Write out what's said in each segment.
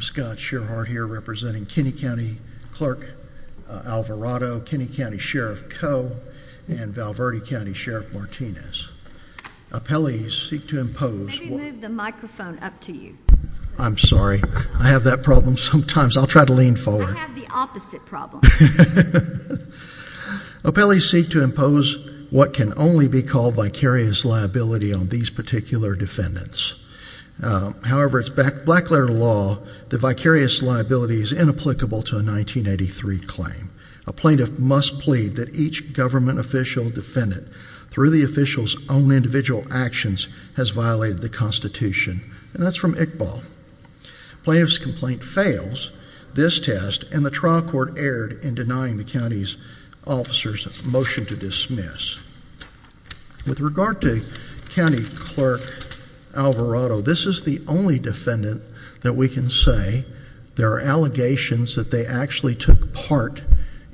Scott Sherhart, Kenny County Clerk Alvarado, Kenny County Sheriff Coe, and Val Verde County Sheriff Martinez. Appellees seek to impose what can only be called vicarious liability on these particular defendants. However, it is black-letter law that vicarious liability is inapplicable to a 1983 claim. A plaintiff must plead that each government official defendant, through the official's own individual actions, has violated the Constitution. That's from Iqbal. Plaintiff's complaint fails this test, and the trial court erred in denying the county's officer's motion to dismiss. With regard to County Clerk Alvarado, this is the only defendant that we can say there are allegations that they actually took part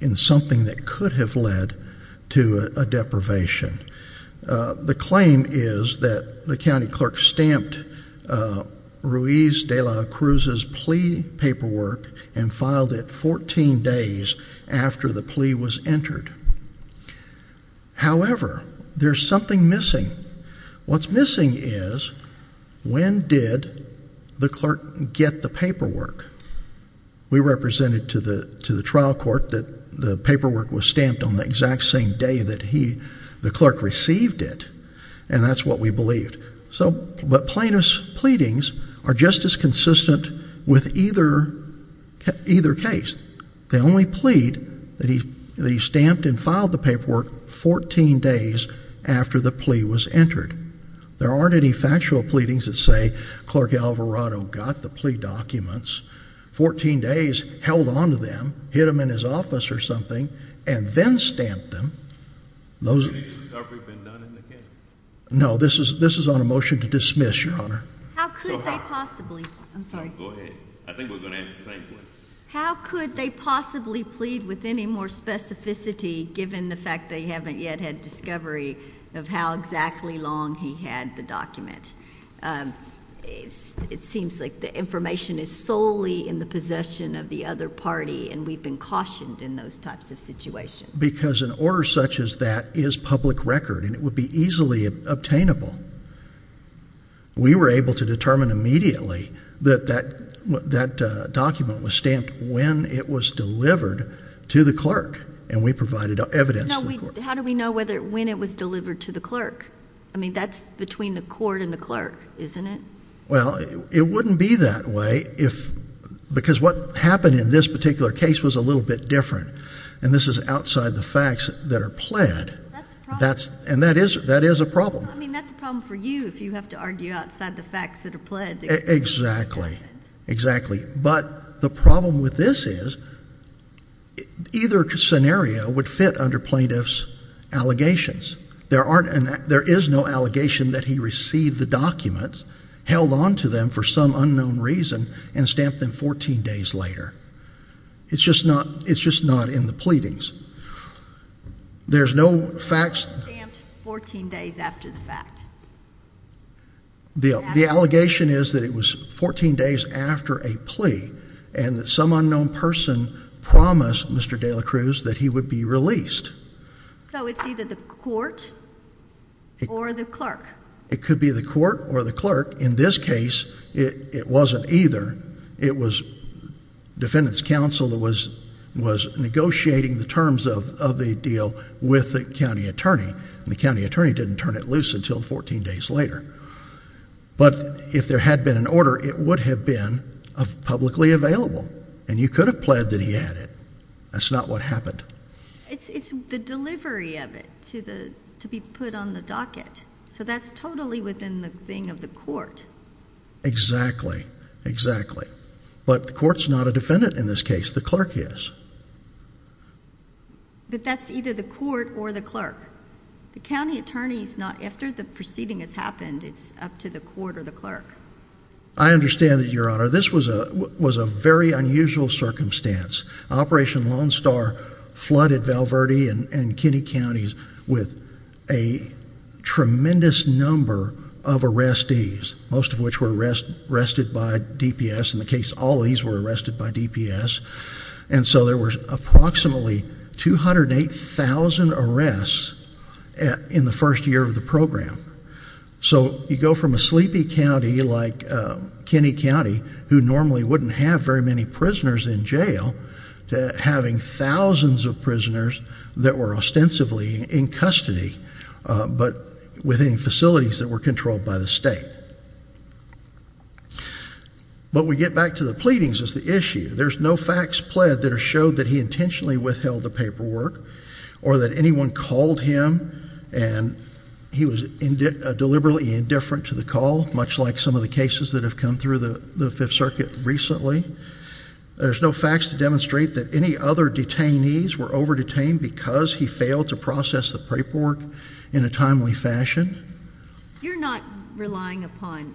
in something that could have led to a deprivation. The claim is that the county clerk stamped Ruiz de la Cruz's plea paperwork and filed it 14 days after the plea was entered. However, there's something missing. What's missing is, when did the clerk get the paperwork? We represented to the trial court that the paperwork was stamped on the exact same day that the clerk received it, and that's what we believed. But plaintiff's pleadings are just as consistent with either case. They only plead that he stamped and filed the paperwork 14 days after the plea was entered. There aren't any factual pleadings that say, Clerk Alvarado got the plea documents, 14 days, held on to them, hid them in his office or something, and then stamped them. Those... Have you ever been done in the case? No, this is on a motion to dismiss, Your Honor. How could that possibly... I'm sorry. Go ahead. I think we're going to ask the plaintiff. How could they possibly plead with any more specificity, given the fact they haven't yet had discovery of how exactly long he had the document? It seems like the information is solely in the possession of the other party, and we've been cautioned in those types of situations. Because an order such as that is public record, and it would be easily obtainable. We were able to determine immediately that that document was stamped when it was delivered to the clerk, and we provided evidence to the court. How do we know when it was delivered to the clerk? I mean, that's between the court and the clerk, isn't it? Well, it wouldn't be that way if... Because what happened in this particular case was a little bit different, and this is outside the facts that are pled. And that is a problem. I mean, that's a problem for you if you have to argue outside the facts that are pled. Exactly. Exactly. But the problem with this is, either scenario would fit under plaintiff's allegations. There aren't... There is no allegation that he received the documents, held on to them for some unknown reason, and stamped them 14 days later. It's just not... It's just not in the pleadings. There's no facts... He stamped 14 days after the fact. The allegation is that it was 14 days after a plea, and that some unknown person promised Mr. de la Cruz that he would be released. So it's either the court or the clerk. It could be the court or the clerk. In this case, it wasn't either. It was defendant's counsel that was negotiating the terms of a deal with the county attorney, and the county attorney didn't turn it loose until 14 days later. But if there had been an order, it would have been publicly available, and you could have pled that he had it. That's not what happened. It's the delivery of it to be put on the docket, so that's totally within the thing of the court. Exactly. Exactly. But the court's not a defendant in this case. The clerk is. But that's either the court or the clerk. The county attorney's not... After the proceeding has happened, it's up to the court or the clerk. I understand that, Your Honor. This was a very unusual circumstance. Operation Lone Star flooded Val Verde and Kinney Counties with a tremendous number of arrestees, most of which were arrested by DPS. In the case of Ollie's, they were arrested by DPS. And so there were approximately 208,000 arrests in the first year of the program. So you go from a sleepy county like Kinney County, who normally wouldn't have very many prisoners in jail, to having thousands of prisoners that were ostensibly in custody, but within facilities that were controlled by the state. But we get back to the pleadings as the issue. There's no facts pled that have showed that he intentionally withheld the paperwork or that anyone called him and he was deliberately indifferent to the call, much like some of the cases that have come through the Fifth Circuit recently. There's no facts to demonstrate that any other detainees were over-detained because he failed to process the paperwork in a timely fashion. You're not relying upon,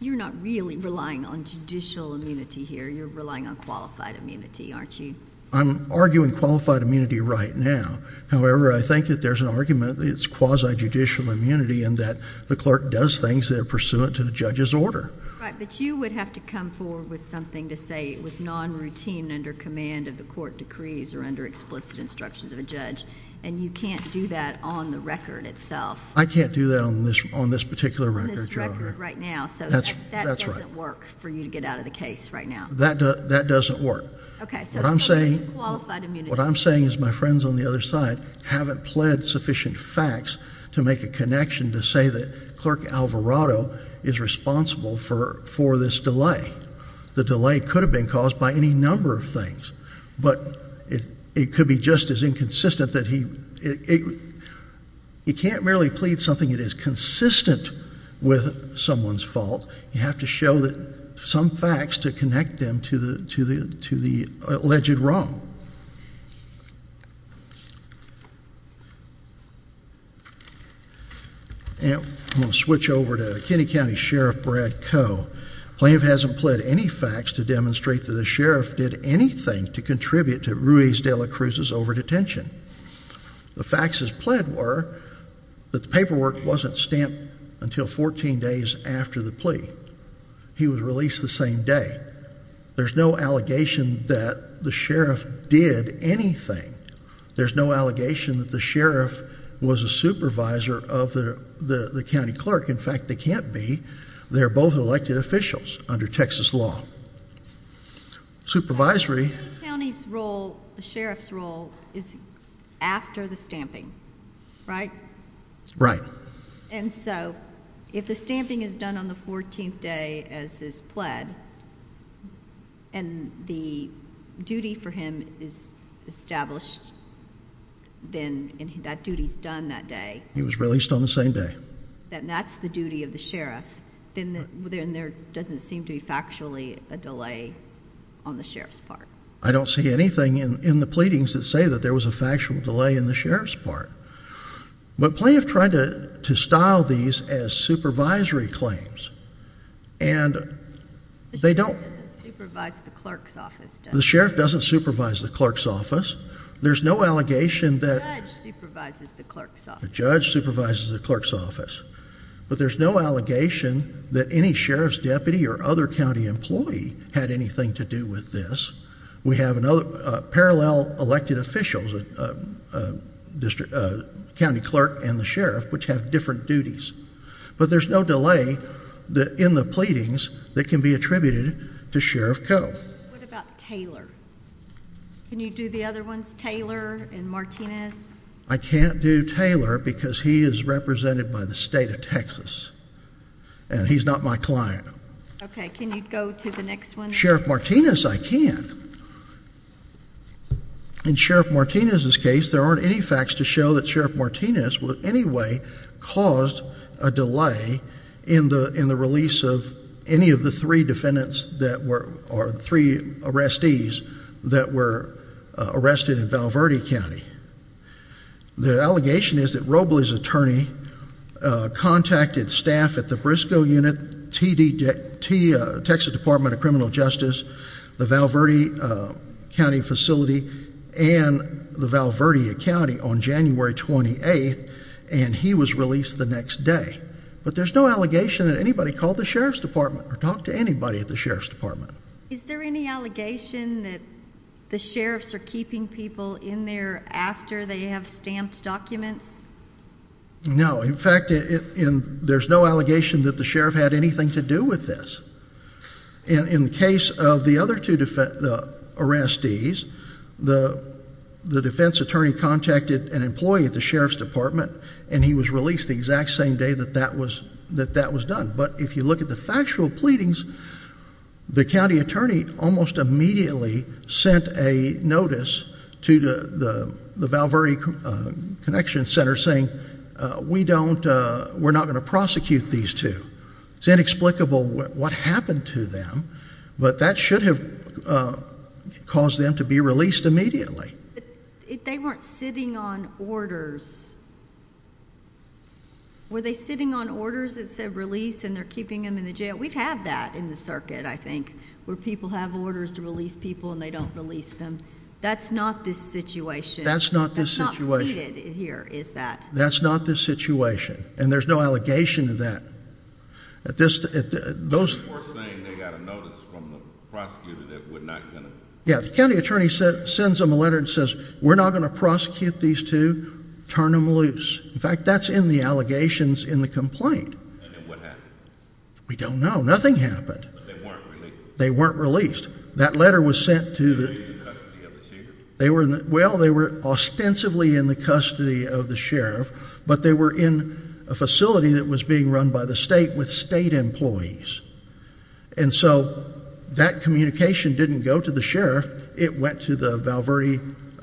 you're not really relying on judicial immunity here. You're relying on qualified immunity, aren't you? I'm arguing qualified immunity right now. However, I think that there's an argument that it's quasi-judicial immunity and that the clerk does things that are pursuant to the judge's order. Right, but you would have to come forward with something to say it was non-routine under command of the court decrees or under explicit instructions of a judge, and you can't do that on the record itself. I can't do that on this particular record. On this record right now, so that doesn't work for you to get out of the case right now. That doesn't work. Okay. What I'm saying is my friends on the other side haven't pled sufficient facts to make a connection to say that Clerk Alvarado is responsible for this delay. The delay could have been caused by any number of things, but it could be just as inconsistent that he, he can't merely plead something that is consistent with someone's fault. You have to show that some facts to connect them to the alleged wrong. And I'm going to switch over to Kennedy County Sheriff Brad Coe. So, plaintiff hasn't pled any facts to demonstrate that the sheriff did anything to contribute to Ruiz de la Cruz's over-detention. The facts as pled were that the paperwork wasn't stamped until 14 days after the plea. He was released the same day. There's no allegation that the sheriff did anything. There's no allegation that the sheriff was a supervisor of the, the, the county clerk. In fact, they can't be. They're both elected officials under Texas law. Supervisory. The county's role, the sheriff's role is after the stamping, right? Right. And so, if the stamping is done on the 14th day as is pled, and the duty for him is established, then that duty's done that day. He was released on the same day. And that's the duty of the sheriff, and there doesn't seem to be factually a delay on the sheriff's part. I don't see anything in, in the pleadings that say that there was a factual delay in the sheriff's part. But plaintiff tried to, to style these as supervisory claims, and they don't. The sheriff doesn't supervise the clerk's office, does he? The sheriff doesn't supervise the clerk's office. There's no allegation that... The judge supervises the clerk's office. The judge supervises the clerk's office. But there's no allegation that any sheriff's deputy or other county employee had anything to do with this. We have another, parallel elected officials, a district, a county clerk and the sheriff, which have different duties. But there's no delay in the pleadings that can be attributed to Sheriff Cuttle. What about Taylor? Can you do the other ones, Taylor and Martinez? I can't do Taylor because he is represented by the state of Texas. And he's not my client. Okay. Can you go to the next one? Sheriff Martinez, I can. In Sheriff Martinez's case, there aren't any facts to show that Sheriff Martinez would in any way cause a delay in the, in the release of any of the three defendants that were, or three arrestees that were arrested in Val Verde County. The allegation is that Roble's attorney contacted staff at the Briscoe Unit, Texas Department of Criminal Justice, the Val Verde County Facility and the Val Verde County on January 28th and he was released the next day. But there's no allegation that anybody called the sheriff's department or talked to anybody at the sheriff's department. Is there any allegation that the sheriffs are keeping people in there after they have stamped documents? No. In fact, there's no allegation that the sheriff had anything to do with this. In the case of the other two arrestees, the defense attorney contacted an employee at the sheriff's department and he was released the exact same day that that was done. But if you look at the factual pleadings, the county attorney almost immediately sent a notice to the Val Verde Connection Center saying, we don't, we're not going to prosecute these two. It's inexplicable what happened to them, but that should have caused them to be released immediately. But if they weren't sitting on orders, were they sitting on orders that said release of them and they're keeping them in the jail? We've had that in the circuit, I think, where people have orders to release people and they don't release them. That's not this situation. That's not this situation. That's not pleaded here, is that? That's not this situation. And there's no allegation of that. At this, those... They were saying they got a notice from the prosecutor that would not... Yeah. The county attorney sends them a letter and says, we're not going to prosecute these two. Turn them loose. In fact, that's in the allegations in the complaint. And what happened? We don't know. Nothing happened. But they weren't released. They weren't released. That letter was sent to the... Were they in the custody of the sheriff? They were in the... Well, they were ostensibly in the custody of the sheriff, but they were in a facility that was being run by the state with state employees. And so that communication didn't go to the sheriff. It went to the Val Verde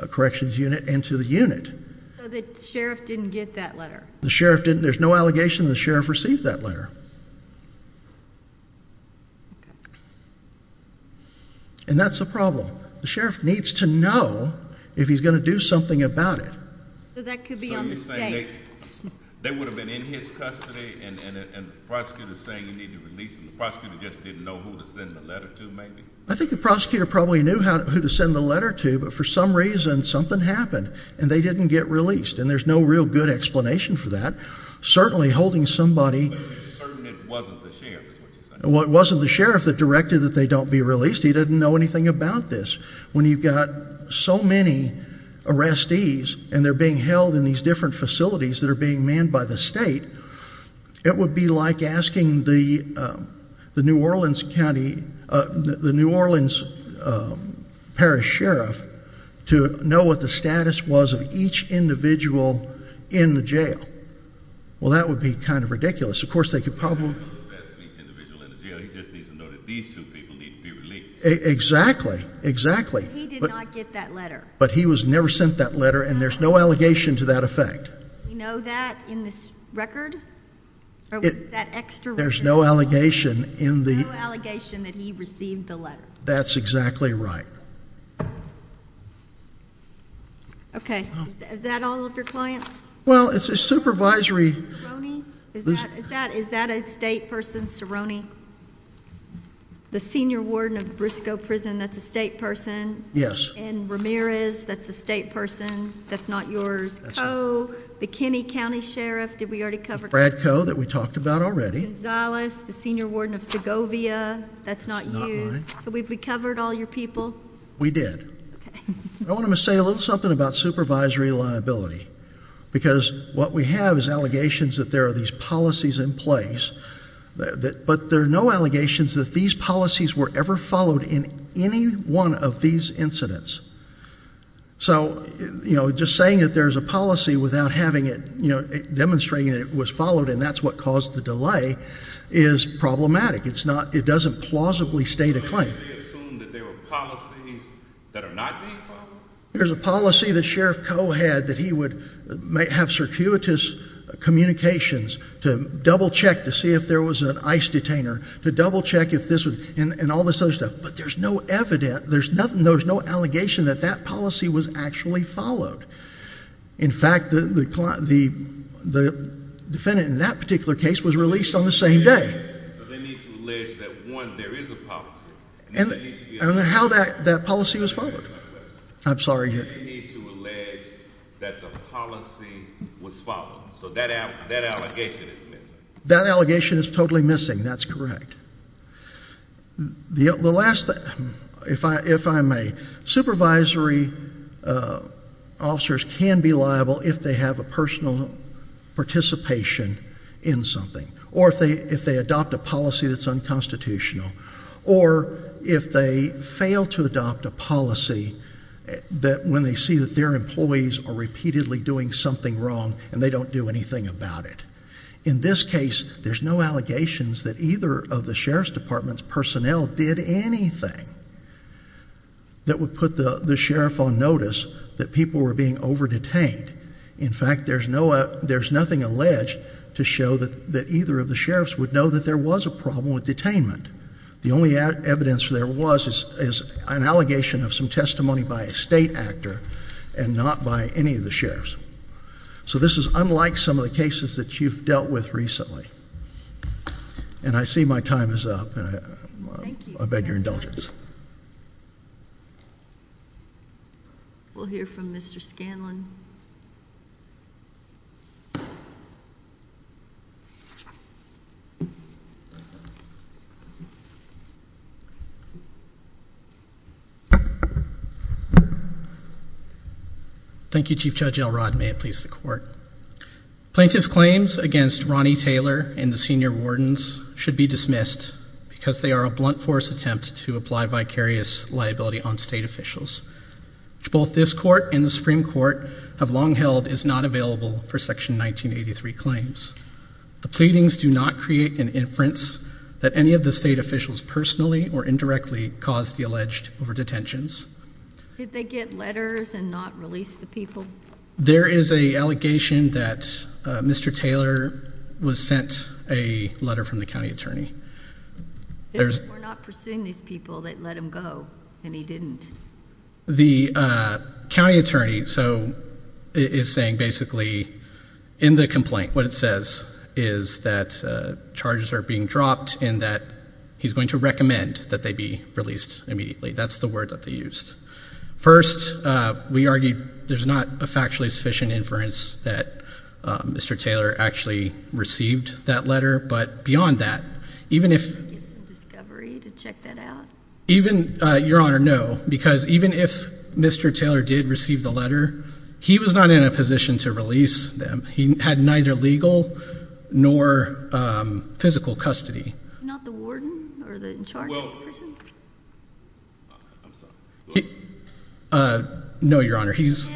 Corrections Unit and to the unit. So the sheriff didn't get that letter? The sheriff didn't... There was no allegation when the sheriff received that letter. And that's a problem. The sheriff needs to know if he's going to do something about it. So that could be unsafe. So you're saying they... They would have been in his custody and the prosecutor is saying you need to release them. The prosecutor just didn't know who to send the letter to, maybe? I think the prosecutor probably knew who to send the letter to, but for some reason, something happened and they didn't get released. And there's no real good explanation for that. Certainly, holding somebody... But you're certain it wasn't the sheriff? Well, it wasn't the sheriff that directed that they don't be released. He didn't know anything about this. When you've got so many arrestees and they're being held in these different facilities that are being manned by the state, it would be like asking the New Orleans County... The New Orleans Parish Sheriff to know what the status was of each individual in the jail. Well, that would be kind of ridiculous. Of course, they could probably... Exactly. He did not get that letter. But he was never sent that letter and there's no allegation to that effect. You know that in this record? That extra record? There's no allegation in the... There's no allegation that he received the letter. That's exactly right. Okay. Is that all of your clients? Well, it's a supervisory... Is that a state person, Cerrone? The Senior Warden of Briscoe Prison, that's a state person. Yes. And Ramirez, that's a state person. That's not yours. That's not... Coe, the Kenney County Sheriff, did we already cover... The Brad Coe that we talked about already. Gonzalez, the Senior Warden of Govia, that's not you. That's not mine. Did we cover all your people? We did. Okay. I want to say a little something about supervisory liability because what we have is allegations that there are these policies in place, but there are no allegations that these policies were ever followed in any one of these incidents. So, you know, just saying that there's a policy without having it, you know, demonstrating it was followed and that's what caused the delay is problematic. It doesn't plausibly state a claim. There's a policy that Sheriff Coe had that he would have circuitous communications to double-check to see if there was an ICE detainer, to double-check if this was... and all this other stuff. But there's no evidence, there's nothing, there's no allegation that that policy was actually followed. In fact, the defendant in that particular case was released on the same day. But they need to allege that, one, there is a policy. And how that policy was followed. I'm sorry. They need to allege that the policy was followed. So that allegation is missing. That allegation is totally missing. That's correct. The last... If I may, supervisory officers can be liable if they have a personal participation in something. Or if they adopt a policy that's unconstitutional. Or if they fail to adopt a policy that when they see that their employees are repeatedly doing something wrong and they don't do anything about it. In this case, there's no allegations that either of the sheriff's department's personnel did anything that would put the sheriff on notice that people were being over-detained. In fact, there's nothing alleged to show that either of the sheriffs would know that there was a problem with detainment. The only evidence there was is an allegation of some testimony by a state actor and not by any of the sheriffs. So this is unlike some of the cases that you've dealt with recently. And I see my time is up. I beg your indulgence. We'll hear from Mr. Scanlon. Thank you. Thank you, Chief Judge Elrod. May it please the Court. Plaintiff's claims against Ronnie Taylor and the senior wardens should be dismissed because they are a blunt force attempt to apply vicarious liability on state officials. Both this court and the Supreme Court have long held it's not available for Section 1983 claims. The pleadings do not create an inference that any of the state officials personally or indirectly caused the alleged over-detentions. Did they get letters and not release the people? There is an allegation that Mr. Taylor was sent a letter from the county attorney. We're not pursuing these people. They let him go and he didn't. The county attorney is saying basically in the complaint what it says is that charges are being dropped and that he's going to recommend that they be released immediately. That's the word that they used. First, there's not a factually sufficient inference that Mr. Taylor actually received that letter. But beyond that, even if... Even, Your Honor, no. Because even if Mr. Taylor did receive the letter, he was not in a position to release them. He had neither legal nor physical custody. No, Your Honor, he's...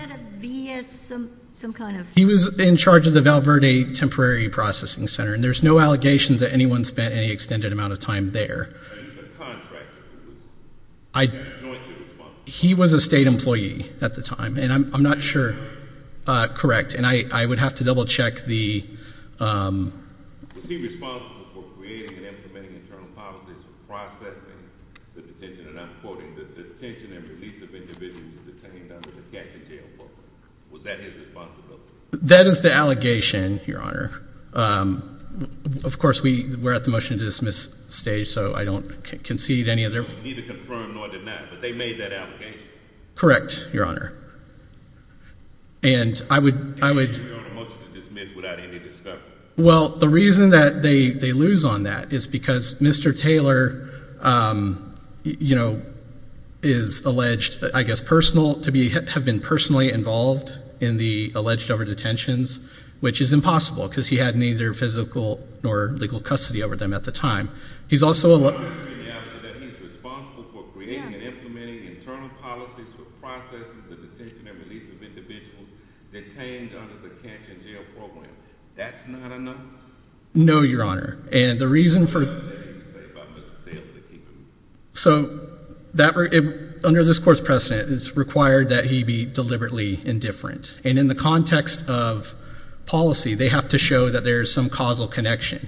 He was in charge of the Val Verde Temporary Processing Center, and there's no allegations that anyone spent any extended amount of time there. He was a state employee at the time, and I'm not sure... Correct, and I would have to double-check the... Was that his responsibility? That is the allegation, Your Honor. Of course, we're at the motion-to-dismiss stage, so I don't concede any of their... Neither confirmed nor denied, but they made that allegation. Correct, Your Honor. And I would... Your Honor, motion to dismiss without any discussion. Well, the reason that they lose on that is because Mr. Taylor, you know, is alleged, I guess, personal, to have been personally involved in the alleged over-detentions, which is impossible, because he had neither physical nor legal custody over them at the time. He's also... No, Your Honor, and the reason for... So, under this Court's precedent, it's required that he be deliberately indifferent, and in the context of policy, they have to show that there is some causal connection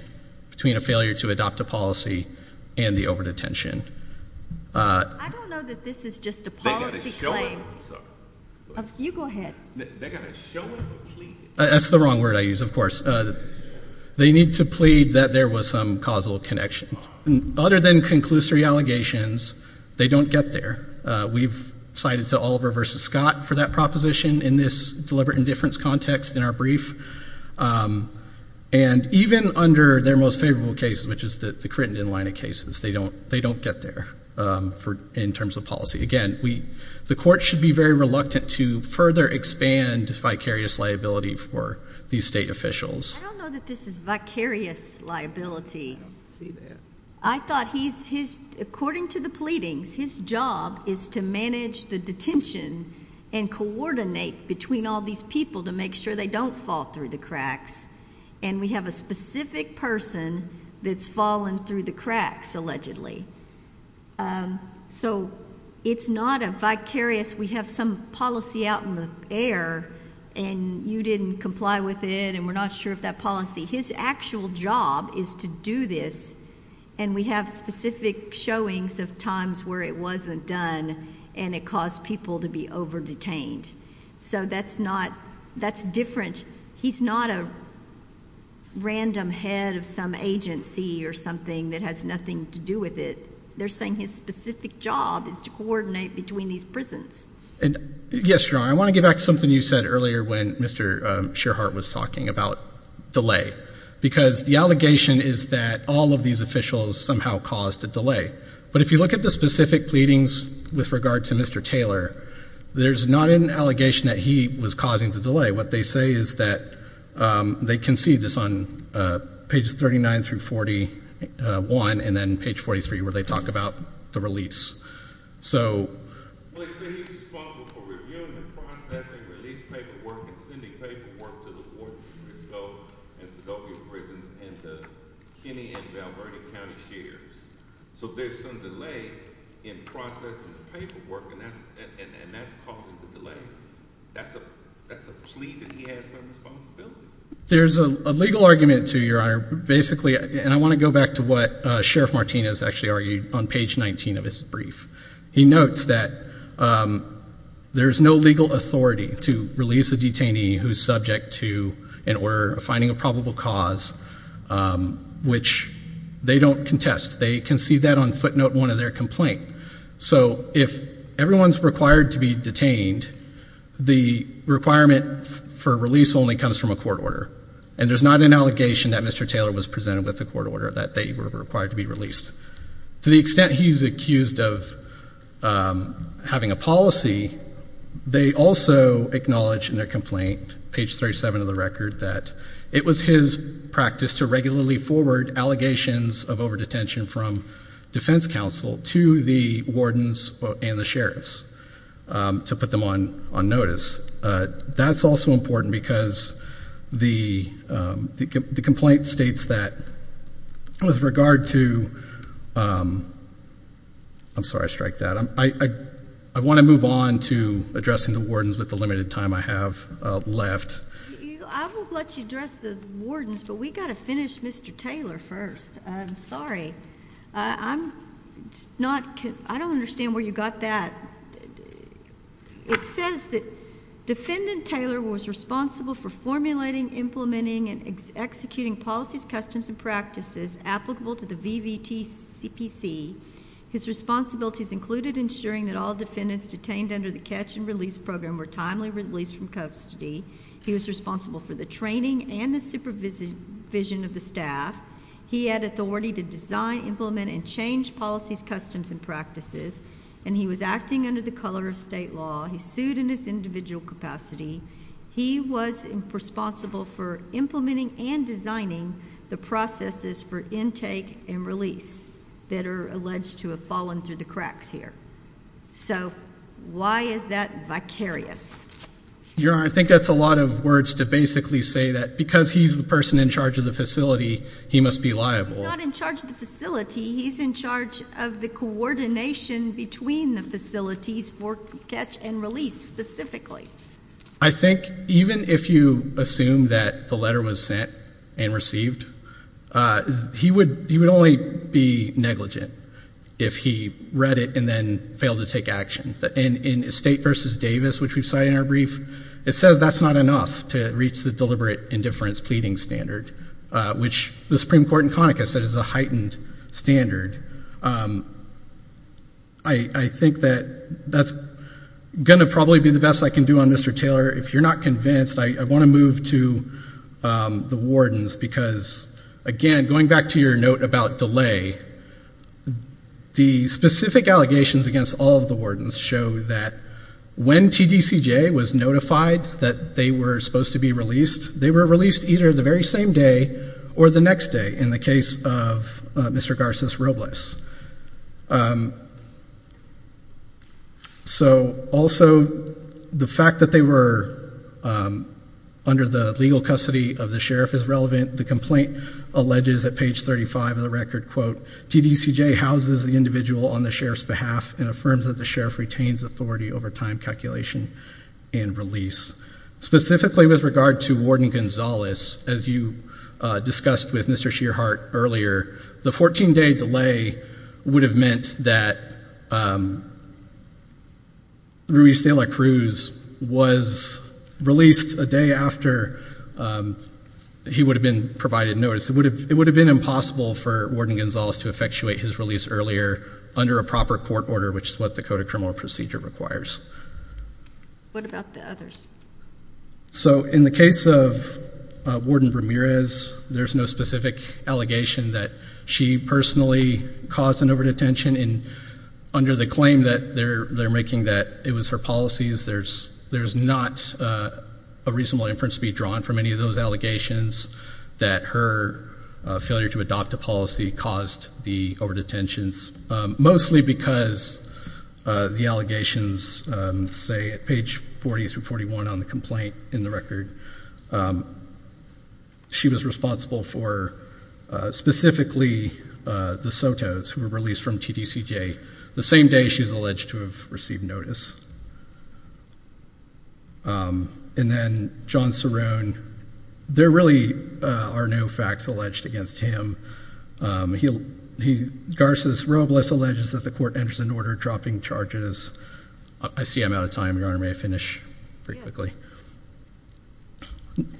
between a failure to adopt a policy and the over-detention. That's the wrong word I used, of course. They need to plead that there was some causal connection. Other than conclusory allegations, they don't get there. We've cited the Oliver v. Scott for that proposition in this deliberate indifference context in our brief. And even under their most favorable case, which is the Crittenden line of cases, they don't get there in terms of policy. Again, the Court should be very reluctant to further expand vicarious liability for these state officials. I don't know that this is vicarious liability. I don't see that. I thought he's... According to the pleadings, his job is to manage the detention and coordinate between all these people to make sure they don't fall through the cracks, and we have a specific person that's fallen through the cracks, allegedly. So, it's not a vicarious... We have some policy out in the air, and you didn't comply with it, and we're not sure of that policy. His actual job is to do this, and we have specific showings of times where it wasn't done, and it caused people to be over-detained. So, that's not... That's different. He's not a random head of some agency or something that has nothing to do with it. They're saying his specific job is to coordinate between these prisons. Yes, Your Honor, I want to get back to something you said earlier when Mr. Shearheart was talking about delay, because the allegation is that all of these officials somehow caused the delay. But if you look at the specific pleadings with regard to Mr. Taylor, there's not an allegation that he was causing the delay. What they say is that they conceived this on pages 39 through 41, and then page 43 where they talk about the release. So... There's a legal argument to Your Honor, basically, and I want to go back to what Sheriff Martinez actually argued on page 19 of his brief. He notes that there's no legal authority to release a detainee who's subject to an order of finding a probable cause, which they don't contest. They concede that on footnote one of their complaint. So, if everyone's required to be detained, the requirement for release only comes from a court order, and there's not an allegation that Mr. Taylor was presented with a court order that they were required to be released. To the extent he's accused of having a policy, they also acknowledge in their complaint, page 37 of the record, that it was his practice to regularly forward allegations of overdetention from defense counsel to the wardens and the sheriffs to put them on notice. That's also important because the complaint states that with regard to... I'm sorry, I striked that. I want to move on to addressing the wardens with the limited time I have left. I will let you address the wardens, but we've got to finish Mr. Taylor first. I'm sorry. I don't understand where you got that. It says that Defendant Taylor was responsible for formulating, implementing, and executing policies, customs, and practices applicable to the VVTCPC. His responsibilities included ensuring that all defendants detained under the catch and release program were timely released from custody. He was responsible for the training and the supervision of the staff. He had authority to design, implement, and change policies, customs, and practices, and he was acting under the color of state law. He sued in his individual capacity. He was responsible for implementing and designing the processes for intake and release that are alleged to have fallen through the cracks here. So why is that vicarious? Your Honor, I think that's a lot of words to basically say that because he's the person in charge of the facility, he must be liable. He's not in charge of the facility. He's in charge of the coordination between the facilities for catch and release specifically. I think even if you assume that the letter was sent and received, he would only be negligent if he read it and then failed to take action. In Estate v. Davis, which we cite in our brief, it says that's not enough to reach the deliberate indifference pleading standard, which the Supreme Court in Conica says is a heightened standard. I think that that's going to probably be the best I can do on Mr. Taylor. If you're not convinced, I want to move to the wardens because, again, going back to your note about delay, the specific allegations against all the wardens show that when TDCJ was notified that they were supposed to be released, they were released either the very same day or the next day in the case of Mr. Garces Robles. Also, the fact that they were under the legal custody of the sheriff is relevant. The complaint alleges at page 35 of the record, quote, TDCJ houses the individual on the sheriff's behalf and affirms that the sheriff retains authority over time calculation and release. Specifically with regard to Warden Gonzales, as you discussed with Mr. Shearheart earlier, the 14-day delay would have meant that Ruiz Taylor Cruz was released a day after he would have been provided notice. It would have been impossible for Warden Gonzales to effectuate his release earlier under a proper court order, which is what the Code of Criminal Procedure requires. What about the others? So in the case of Warden Ramirez, there's no specific allegation that she personally caused an overdetention, and under the claim that they're making that it was her policies, there's not a reasonable inference to be drawn from any of those allegations that her failure to adopt a policy caused the overdetentions, mostly because the allegations, say, at page 40 through 41 on the complaint in the record, she was responsible for specifically the SOTOs who were released from TDCJ the same day she's alleged to have received notice. And then John Cerrone, there really are no facts alleged against him. Garces Robles alleges that the court enters into order dropping charges. I see I'm out of time, Your Honor. May I finish pretty quickly?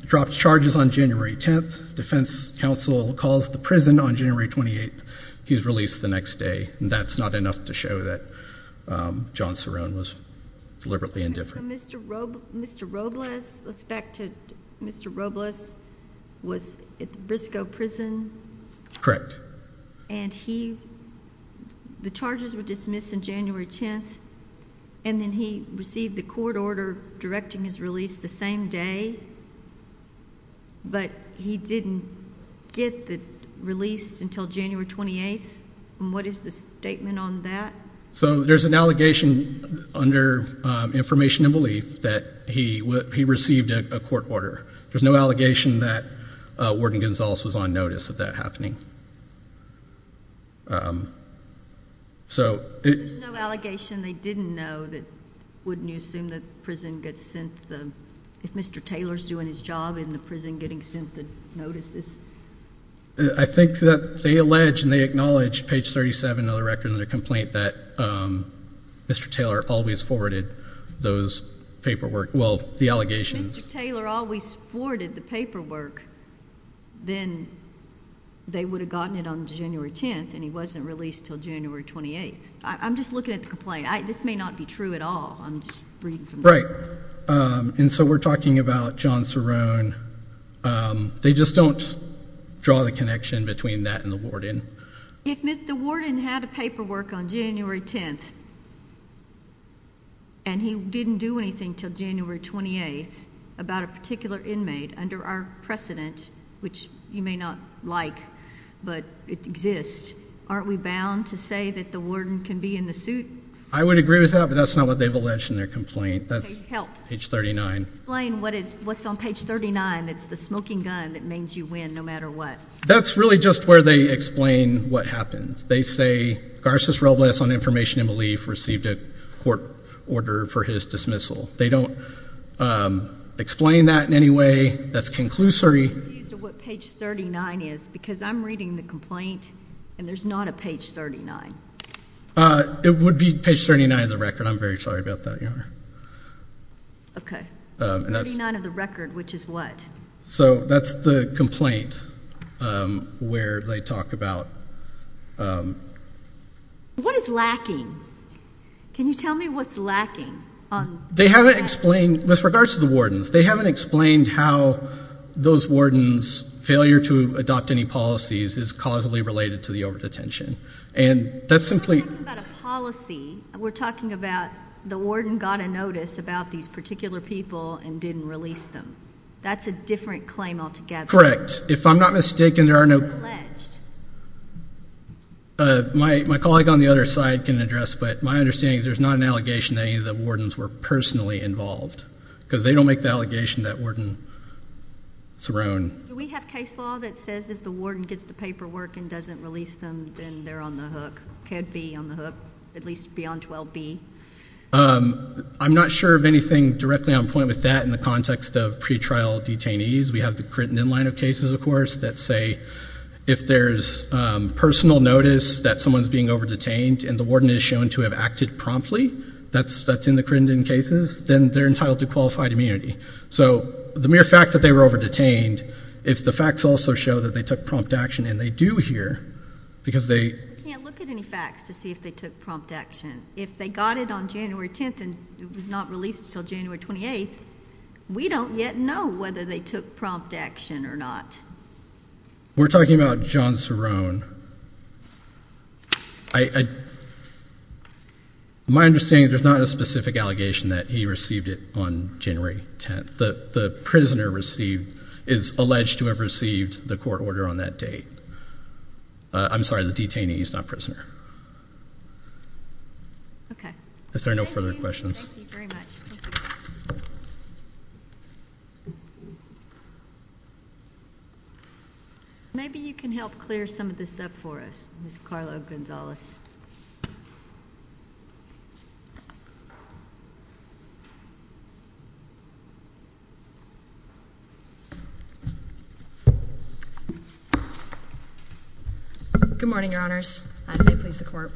Drops charges on January 10th. Defense counsel calls the prison on January 28th. He's released the next day, and that's not enough to show that John Cerrone was deliberately indifferent. Mr. Robles was at Briscoe Prison. Correct. And the charges were dismissed on January 10th, and then he received the court order directing his release the same day, but he didn't get the release until January 28th, and what is the statement on that? So there's an allegation under information and belief that he received a court order. There's no allegation that Warden Gonzales was on notice of that happening. There's no allegation they didn't know that, wouldn't you assume that the prison gets sent the, if Mr. Taylor's doing his job, isn't the prison getting sent the notices? I think that they allege and they acknowledge, page 37 of the record in their complaint, that Mr. Taylor always forwarded those paperwork, well, the allegations. If Mr. Taylor always forwarded the paperwork, then they would have gotten it on January 10th, and he wasn't released until January 28th. I'm just looking at the complaint. This may not be true at all. I'm just reading from the record. Right. And so we're talking about John Cerrone. They just don't draw the connection between that and the warden. If Mr. Warden had a paperwork on January 10th, and he didn't do anything until January 28th, about a particular inmate under our precedent, which you may not like, but it exists, aren't we bound to say that the warden can be in the suit? I would agree with that, but that's not what they've alleged in their complaint. Help. Page 39. Explain what's on page 39. It's the smoking gun that means you win no matter what. That's really just where they explain what happens. They say, Garces Robles, on information and belief, received a court order for his dismissal. They don't explain that in any way. That's a conclusory. What page 39 is, because I'm reading the complaint, and there's not a page 39. It would be page 39 of the record. I'm very sorry about that, Your Honor. Okay. 39 of the record, which is what? So that's the complaint where they talk about... What is lacking? Can you tell me what's lacking? They haven't explained, with regards to the wardens, they haven't explained how those wardens' failure to adopt any policies is causally related to the over-detention. We're talking about a policy. We're talking about the warden got a notice about these particular people and didn't release them. That's a different claim altogether. Correct. If I'm not mistaken, there are no... My colleague on the other side can address, but my understanding is there's not an allegation that any of the wardens were personally involved, because they don't make the allegation that warden Theron... Do we have case law that says if the warden does the paperwork and doesn't release them, then they're on the hook, could be on the hook, at least be on 12B? I'm not sure of anything directly on point with that in the context of pretrial detainees. We have the Crittenden line of cases, of course, that say if there's personal notice that someone's being over-detained and the warden is shown to have acted promptly, that's in the Crittenden cases, then they're entitled to qualified immunity. So the mere fact that they were over-detained, if the facts also show that they took prompt action, and they do here, because they... We can't look at any facts to see if they took prompt action. If they got it on January 10th and it was not released until January 28th, we don't yet know whether they took prompt action or not. We're talking about John Theron. My understanding is there's not a specific allegation that he received it on January 10th. The prisoner received, is alleged to have received the court order on that date. I'm sorry, the detainee, he's not a prisoner. Okay. Is there no further questions? Thank you very much. Maybe you can help clear some of this up for us, Ms. Carlo-Gonzalez. Good morning, Your Honors. I'm here to speak to the court.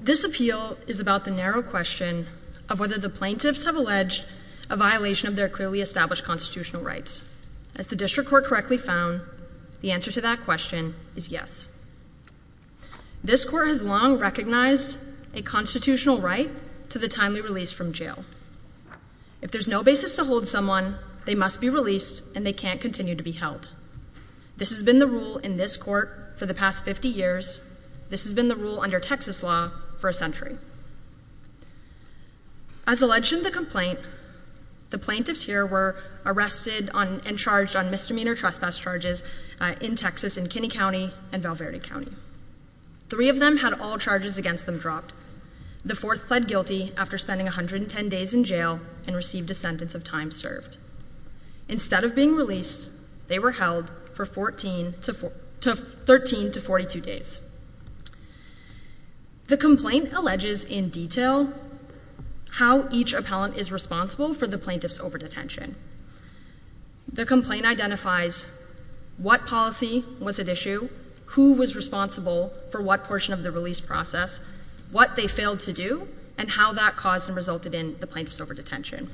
This appeal is about the narrow question, of whether the plaintiffs have alleged a violation of their clearly established constitutional rights. As the district court correctly found, the answer to that question is yes. This court has long recognized a constitutional right to the timely release from jail. If there's no basis to hold someone, they must be released and they can't continue to be held. This has been the rule in this court for the past 50 years. This has been the rule under Texas law for a century. As alleged in the complaint, the plaintiffs here were arrested and charged on misdemeanor trespass charges in Texas in Kinney County and Valverde County. Three of them had all charges against them dropped. The fourth pled guilty after spending 110 days in jail and received a sentence of time served. Instead of being released, they were held for 13 to 42 days. The complaint alleges in detail how each appellant is responsible for the plaintiff's overdetention. The complaint identifies what policy was at issue, who was responsible for what portion of the release process, what they failed to do, and how that caused and resulted in the plaintiff's overdetention.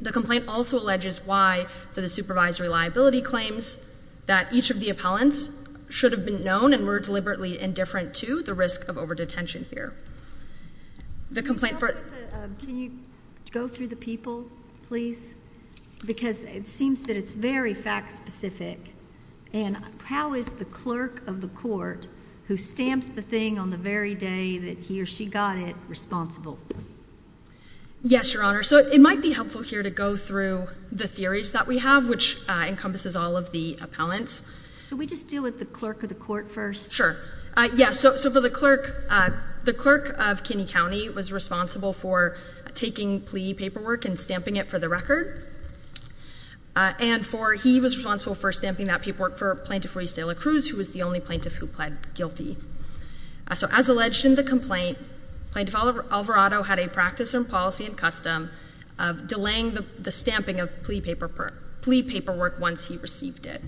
The complaint also alleges why the supervisory liability claims that each of the appellants should have been known and were deliberately indifferent to the risk of overdetention here. Can you go through the people, please? Because it seems that it's very fact-specific. And how is the clerk of the court who stamps the thing on the very day that he or she got it responsible? Yes, Your Honor. So it might be helpful here to go through the theories that we have, which encompasses all of the appellants. Can we just deal with the clerk of the court first? Sure. Yes, so the clerk of Kinney County was responsible for taking plea paperwork and stamping it for the record. And he was responsible for stamping that paperwork for Plaintiff Royce De La Cruz, who was the only plaintiff who pled guilty. So as alleged in the complaint, Plaintiff Alvarado had a practice and policy and custom of delaying the stamping of plea paperwork once he received it.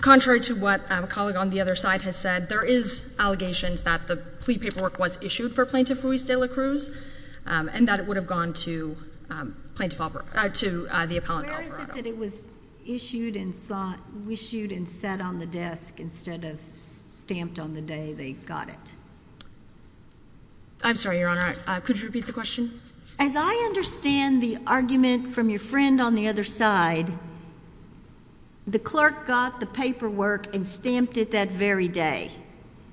Contrary to what a colleague on the other side has said, there is allegations that the plea paperwork was issued for Plaintiff Royce De La Cruz and that it would have gone to the appellant Alvarado. It was issued and sat on the desk instead of stamped on the day they got it. I'm sorry, Your Honor. Could you repeat the question? As I understand the argument from your friend on the other side, the clerk got the paperwork and stamped it that very day.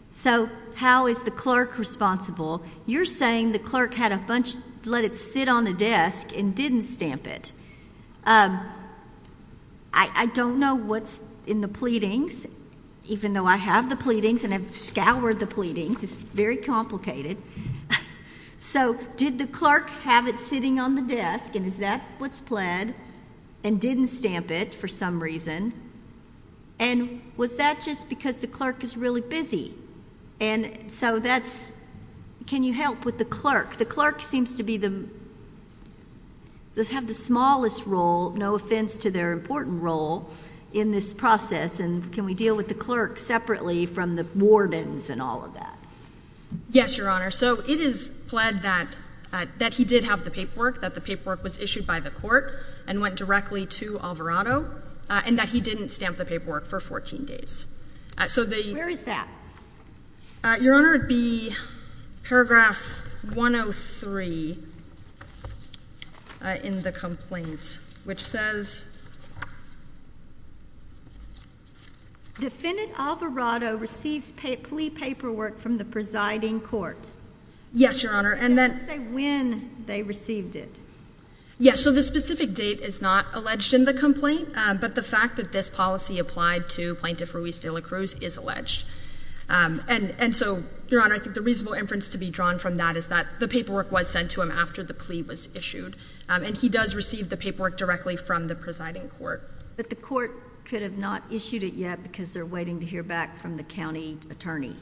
So how is the clerk responsible? You're saying the clerk let it sit on the desk and didn't stamp it. I don't know what's in the pleadings, even though I have the pleadings and have scoured the pleadings. It's very complicated. So did the clerk have it sitting on the desk and is that what's pled and didn't stamp it for some reason? And was that just because the clerk was really busy? And so that's, can you help with the clerk? The clerk seems to have the smallest role, no offense to their important role, in this process, and can we deal with the clerk separately from the wardens and all of that? Yes, Your Honor. So it is pled that he did have the paperwork, that the paperwork was issued by the court and went directly to Alvarado, and that he didn't stamp the paperwork for 14 days. Where is that? Your Honor, it would be paragraph 103 in the complaint, which says... Defendant Alvarado received plea paperwork from the presiding court. Yes, Your Honor. Can you say when they received it? Yes, so the specific date is not alleged in the complaint, but the fact that this policy applied to Plaintiff Ruiz de la Cruz is alleged. And so, Your Honor, I think the reasonable inference to be drawn from that is that the paperwork was sent to him after the plea was issued, and he does receive the paperwork directly from the presiding court. But the court could have not issued it yet because they're waiting to hear back from the county attorney.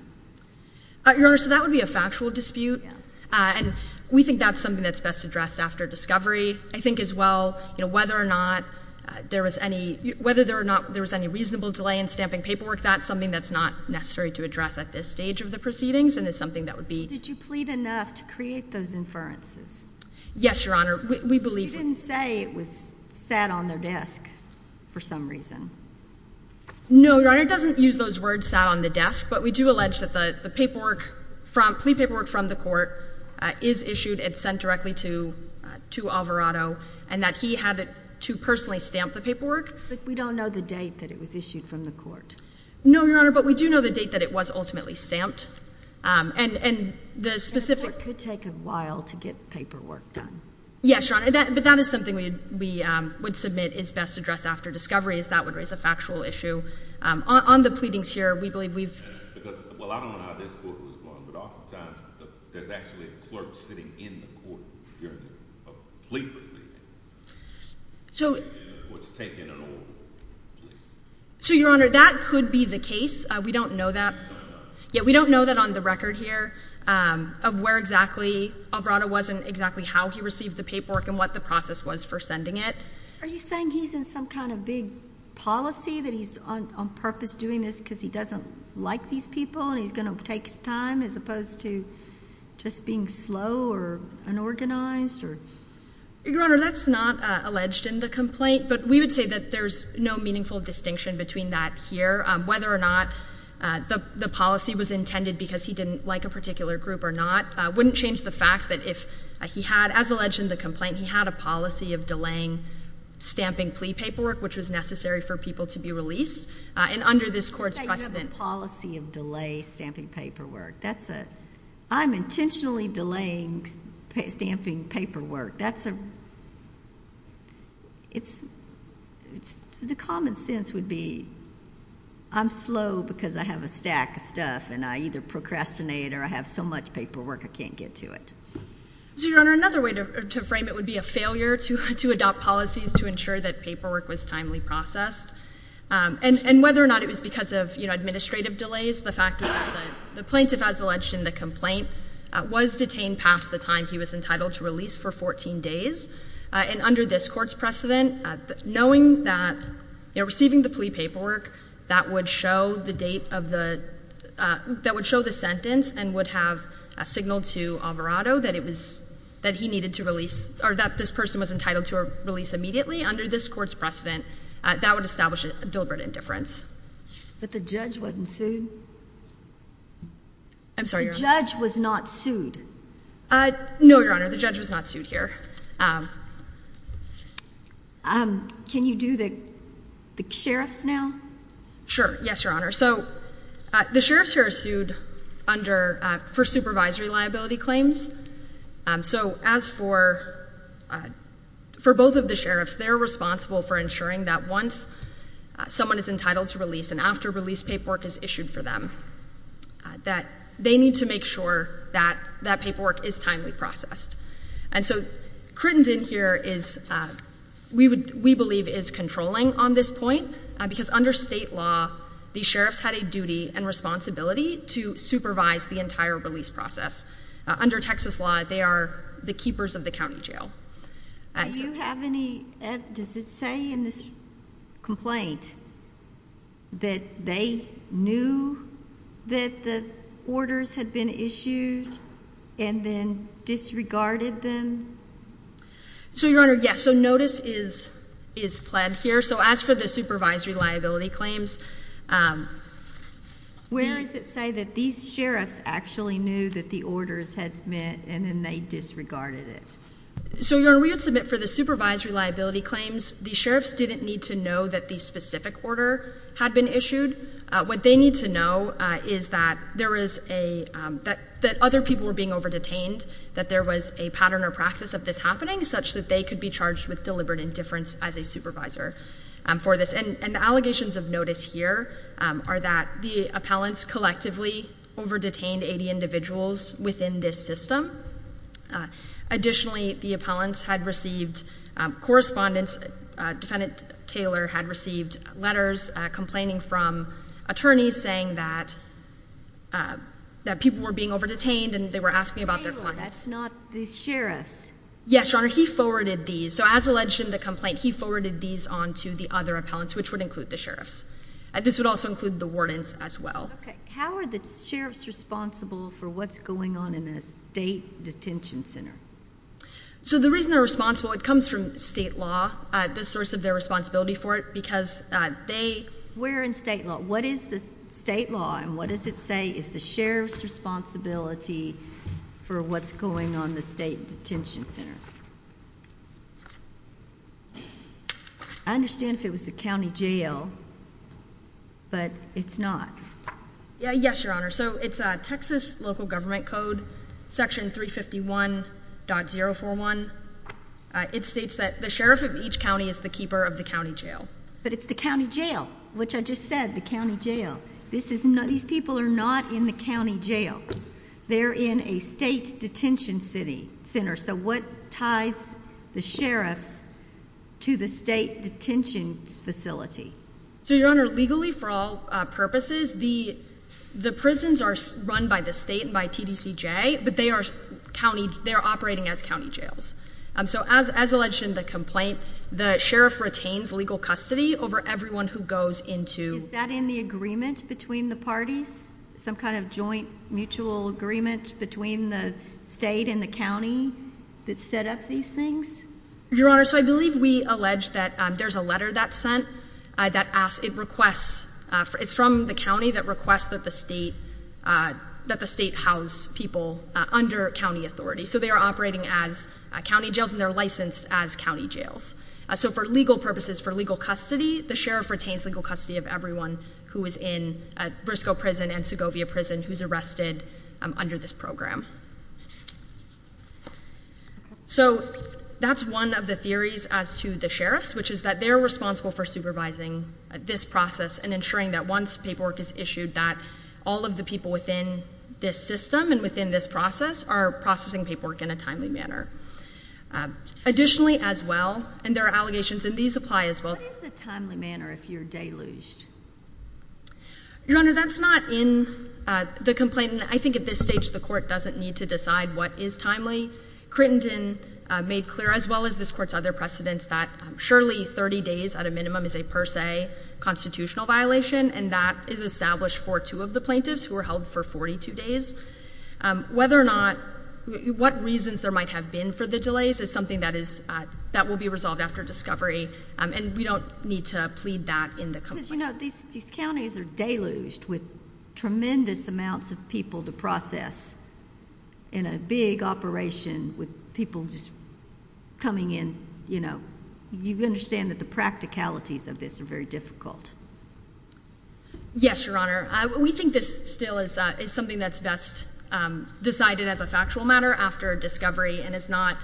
Your Honor, so that would be a factual dispute, and we think that's something that's best addressed after discovery. I think as well, whether or not there was any reasonable delay in stamping paperwork, that's something that's not necessary to address at this stage of the proceedings and is something that would be... Did you plead enough to create those inferences? Yes, Your Honor, we believe... You didn't say it was sat on the desk for some reason. No, Your Honor, it doesn't use those words, sat on the desk, but we do allege that the plea paperwork from the court is issued and sent directly to Alvarado and that he had to personally stamp the paperwork. But we don't know the date that it was issued from the court. No, Your Honor, but we do know the date that it was ultimately stamped. And the specific... It could take a while to get paperwork done. Yes, Your Honor, but that is something we would submit is best addressed after discovery, is that would raise a factual issue. On the pleadings here, we believe we've... Because, well, I don't know how this court was formed, but oftentimes there's actually a clerk sitting in court during a plea. So, Your Honor, that could be the case. We don't know that. Yet we don't know that on the record here of where exactly Alvarado was and exactly how he received the paperwork and what the process was for sending it. Are you saying he's in some kind of big policy that he's on purpose doing this because he doesn't like these people and he's going to take his time as opposed to just being slow or unorganized? Your Honor, that's not alleged in the complaint, but we would say that there's no meaningful distinction between that here. Whether or not the policy was intended because he didn't like a particular group or not wouldn't change the fact that if he had, as alleged in the complaint, he had a policy of delaying stamping plea paperwork, which was necessary for people to be released. And under this court's precedent. I have a policy of delay stamping paperwork. I'm intentionally delaying stamping paperwork. The common sense would be I'm slow because I have a stack of stuff and I either procrastinate or I have so much paperwork I can't get to it. Your Honor, another way to frame it would be a failure to adopt policies to ensure that paperwork was timely processed. And whether or not it was because of administrative delays, the plaintiff, as alleged in the complaint, was detained past the time he was entitled to release for 14 days. And under this court's precedent, knowing that receiving the plea paperwork that would show the sentence and would have a signal to Alvarado that he needed to release or that this person was entitled to release immediately, under this court's precedent, that would establish a deliberate indifference. But the judge wasn't sued? I'm sorry, Your Honor. The judge was not sued? No, Your Honor. The judge was not sued here. Can you do the sheriff now? Sure. Yes, Your Honor. So the sheriffs are sued for supervisory liability claims. So as for both of the sheriffs, they're responsible for ensuring that once someone is entitled to release and after release paperwork is issued for them, that they need to make sure that that paperwork is timely processed. And so Crittenton here is, we believe, is controlling on this point because under state law, the sheriffs had a duty and responsibility to supervise the entire release process. Under Texas law, they are the keepers of the county jail. Do you have any, does it say in this complaint, that they knew that the orders had been issued and then disregarded them? So, Your Honor, yes. So notice is pled here. So as for the supervisory liability claims. Where does it say that these sheriffs actually knew that the orders had been and then they disregarded it? So, Your Honor, we have to admit for the supervisory liability claims, the sheriffs didn't need to know that the specific order had been issued. What they need to know is that there is a, that other people were being over-detained, that there was a pattern or process of this happening, such that they could be charged with deliberate indifference as a supervisor for this. And the allegations of notice here are that the appellants collectively over-detained 80 individuals within this system. Additionally, the appellants had received correspondence, defendant Taylor had received letters complaining from attorneys saying that people were being over-detained and they were asking about their clients. Taylor, that's not the sheriff. Yes, Your Honor, he forwarded these. So as alleged in the complaint, he forwarded these on to the other appellants, which would include the sheriffs. This would also include the wardens as well. Okay. How are the sheriffs responsible for what's going on in the state detention center? So the reason they're responsible, it comes from state law, the source of their responsibility for it, because they... Where in state law? What is the state law and what does it say is the sheriff's responsibility for what's going on in the state detention center? I understand if it was the county jail, but it's not. Yes, Your Honor. So it's Texas local government code, section 351.041. It states that the sheriff of each county is the keeper of the county jail. But it's the county jail, which I just said, the county jail. These people are not in the county jail. They're in a state detention center. So what ties the sheriff to the state detention facility? So, Your Honor, legally for all purposes, the prisons are run by the state, by TDCJ, but they are operating as county jails. So as alleged in the complaint, the sheriff retains legal custody over everyone who goes into... Is that in the agreement between the parties, some kind of joint mutual agreement between the state and the county that set up these things? Your Honor, so I believe we allege that there's a letter that's sent that asks... It's from the county that requests that the state house people under county authority. So they are operating as county jails and they're licensed as county jails. So for legal purposes, for legal custody, the sheriff retains legal custody of everyone who is in Briscoe Prison and Segovia Prison who's arrested under this program. So that's one of the theories as to the sheriff, which is that they're responsible for supervising this process and ensuring that once paperwork is issued, that all of the people within this system and within this process are processing paperwork in a timely manner. Additionally as well, and there are allegations and these apply as well... What is a timely manner if you're deluged? Your Honor, that's not in the complaint. I think at this stage the court doesn't need to decide what is timely. Crittenden made clear as well as this court's other precedents that surely 30 days at a minimum is a per se constitutional violation and that is established for two of the plaintiffs who were held for 42 days. Whether or not, what reasons there might have been for the delays is something that will be resolved after discovery and we don't need to plead that in the complaint. Because you know, these counties are deluged with tremendous amounts of people to process in a big operation with people just coming in. You understand that the practicalities of this are very difficult. Yes, Your Honor. We think this still is something that's best decided as a factual matter after discovery and is not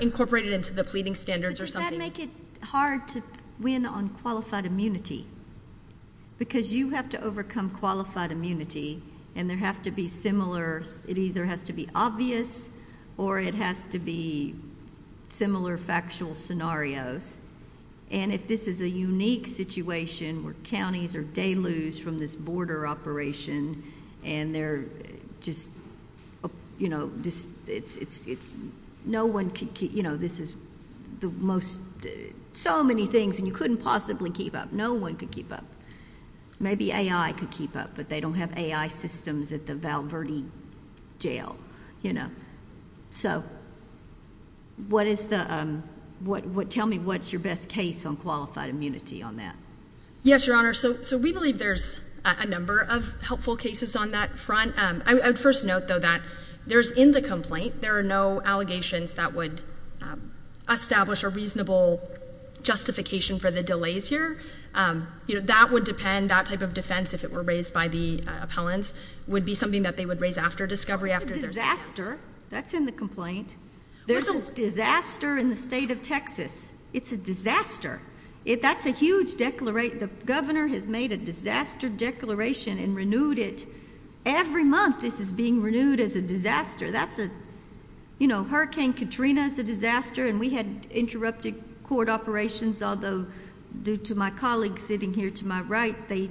incorporated into the pleading standards or something. Does that make it hard to win on qualified immunity? Because you have to overcome qualified immunity and there has to be similar... It either has to be obvious or it has to be similar factual scenarios. And if this is a unique situation where counties are deluged from this border operation and they're just, you know... No one can keep... You know, this is the most... So many things and you couldn't possibly keep up. No one could keep up. Maybe AI could keep up, but they don't have AI systems at the Val Verde jail, you know. So, what is the... Tell me what's your best case on qualified immunity on that. Yes, Your Honor. So, we believe there's a number of helpful cases on that front. I would first note, though, that there's... In the complaint, there are no allegations that would establish a reasonable justification for the delays here. You know, that would depend... That type of defense, if it were raised by the appellants, would be something that they would raise after discovery, after... It's a disaster. That's in the complaint. There's a disaster in the state of Texas. It's a disaster. That's a huge declaration. The governor has made a disaster declaration and renewed it. Every month, this is being renewed as a disaster. That's a... You know, Hurricane Katrina is a disaster, and we had interrupted court operations, although due to my colleagues sitting here to my right, they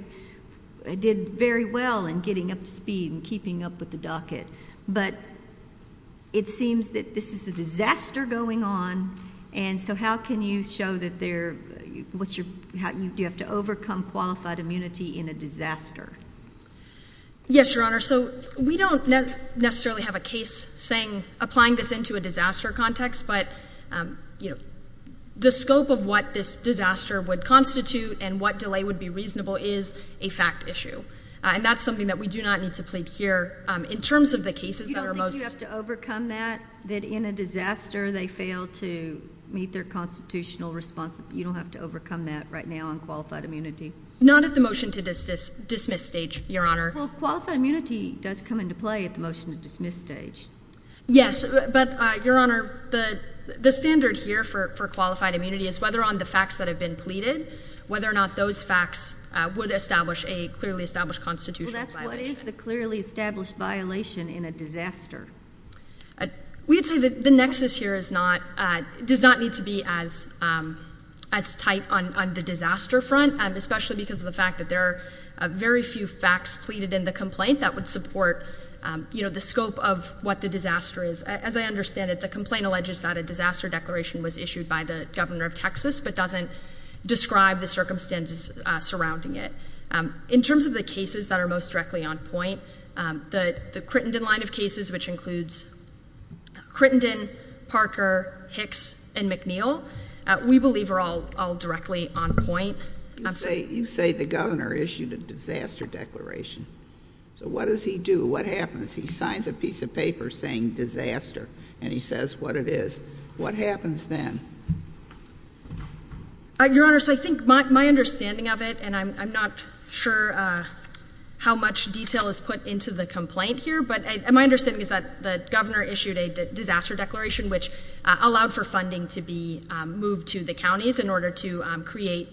did very well in getting up to speed and keeping up with the docket. But it seems that this is a disaster going on, and so how can you show that there... Do you have to overcome qualified immunity in a disaster? Yes, Your Honor. So we don't necessarily have a case saying... applying this into a disaster context, but, you know, the scope of what this disaster would constitute and what delay would be reasonable is a fact issue, and that's something that we do not need to plead here. In terms of the cases that are most... that in a disaster they fail to meet their constitutional responsibility, you don't have to overcome that right now on qualified immunity. Not at the motion-to-dismiss stage, Your Honor. Well, qualified immunity does come into play at the motion-to-dismiss stage. Yes, but, Your Honor, the standards here for qualified immunity is whether on the facts that have been pleaded, whether or not those facts would establish a clearly established constitutional violation. Well, that's what is the clearly established violation in a disaster. We would say that the nexus here is not... does not need to be as tight on the disaster front, especially because of the fact that there are very few facts pleaded in the complaint that would support, you know, the scope of what the disaster is. As I understand it, the complaint alleges that a disaster declaration was issued by the governor of Texas, but doesn't describe the circumstances surrounding it. In terms of the cases that are most directly on point, the Crittenden line of cases, which includes Crittenden, Parker, Hicks and McNeil, we believe are all directly on point. You say the governor issued a disaster declaration. So what does he do? What happens? He signs a piece of paper saying disaster, and he says what it is. What happens then? Your Honor, so I think my understanding of it, and I'm not sure how much detail is put into the complaint here, but my understanding is that the governor issued a disaster declaration, which allowed for funding to be moved to the counties in order to create...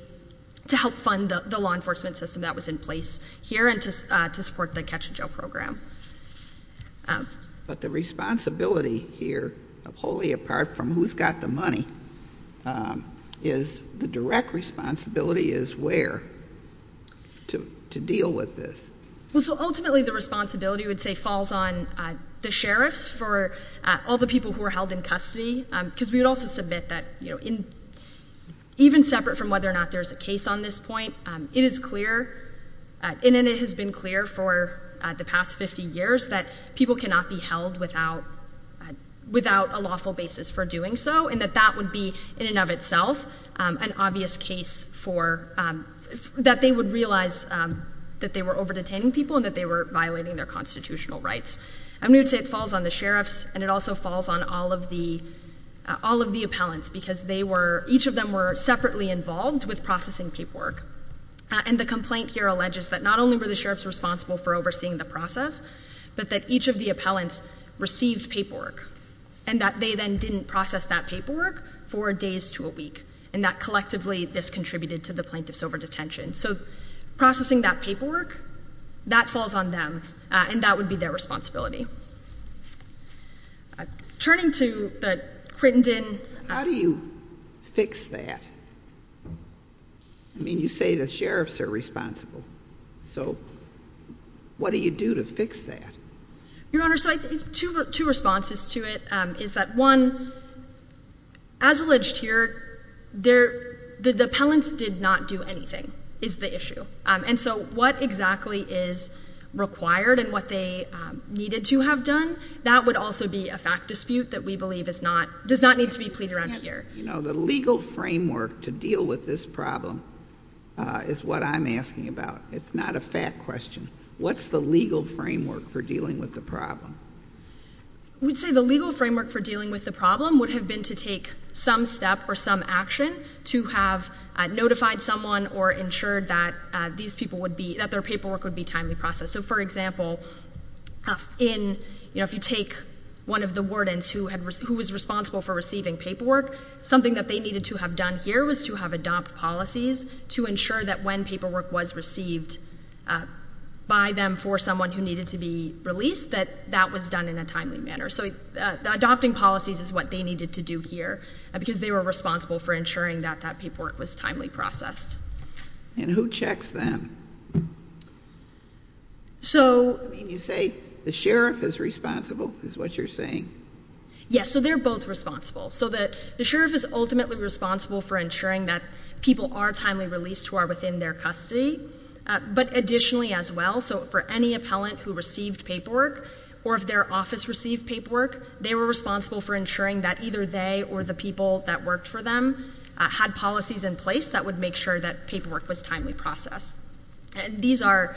to help fund the law enforcement system that was in place here and to support the catch-and-jail program. But the responsibility here, wholly apart from who's got the money, is the direct responsibility is where to deal with this. Ultimately, the responsibility would say falls on the sheriff for all the people who are held in custody, because we would also submit that, even separate from whether or not there's a case on this point, it is clear, and it has been clear for the past 50 years, that people cannot be held without a lawful basis for doing so, and that that would be, in and of itself, an obvious case for... that they would realize that they were over-detaining people and that they were violating their constitutional rights. I'm going to say it falls on the sheriff, and it also falls on all of the appellants, because each of them were separately involved with processing paperwork, and the complaint here alleges that not only were the sheriffs responsible for overseeing the process, but that each of the appellants received paperwork, and that they then didn't process that paperwork for days to a week, and that collectively this contributed to the plaintiff's over-detention. So processing that paperwork, that falls on them, and that would be their responsibility. Turning to the Crittenden... How do you fix that? I mean, you say the sheriffs are responsible, so what do you do to fix that? Your Honor, so I think two responses to it is that, one, as alleged here, the appellants did not do anything, is the issue. And so what exactly is required and what they needed to have done, that would also be a fact dispute that we believe is not... does not need to be pleaded around here. You know, the legal framework to deal with this problem is what I'm asking about. It's not a fact question. What's the legal framework for dealing with the problem? We'd say the legal framework for dealing with the problem would have been to take some step or some action to have notified someone or ensured that these people would be... that their paperwork would be timely processed. So, for example, in... you know, if you take one of the wardens who was responsible for receiving paperwork, something that they needed to have done here was to have adopted policies to ensure that when paperwork was received by them for someone who needed to be released, that that was done in a timely manner. So adopting policies is what they needed to do here because they were responsible for ensuring that that paperwork was timely processed. And who checks them? So... You say the sheriff is responsible, is what you're saying. Yes, so they're both responsible. So the sheriff is ultimately responsible for ensuring that people are timely released who are within their custody. But additionally as well, so for any appellant who received paperwork or if their office received paperwork, they were responsible for ensuring that either they or the people that worked for them had policies in place that would make sure that paperwork was timely processed. These are...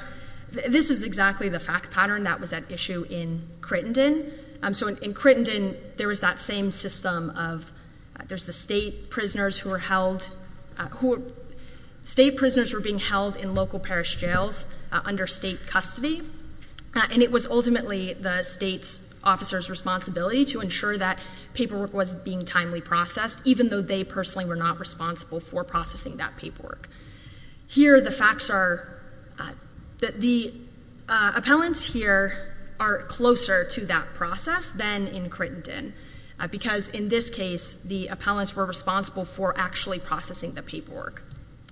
This is exactly the fact pattern that was at issue in Crittenden. So in Crittenden, there was that same system of... There's the state prisoners who were held... State prisoners were being held in local parish jails under state custody. And it was ultimately the state officer's responsibility to ensure that paperwork was being timely processed even though they personally were not responsible for processing that paperwork. Here the facts are that the appellants here are closer to that process than in Crittenden because in this case, the appellants were responsible for actually processing the paperwork.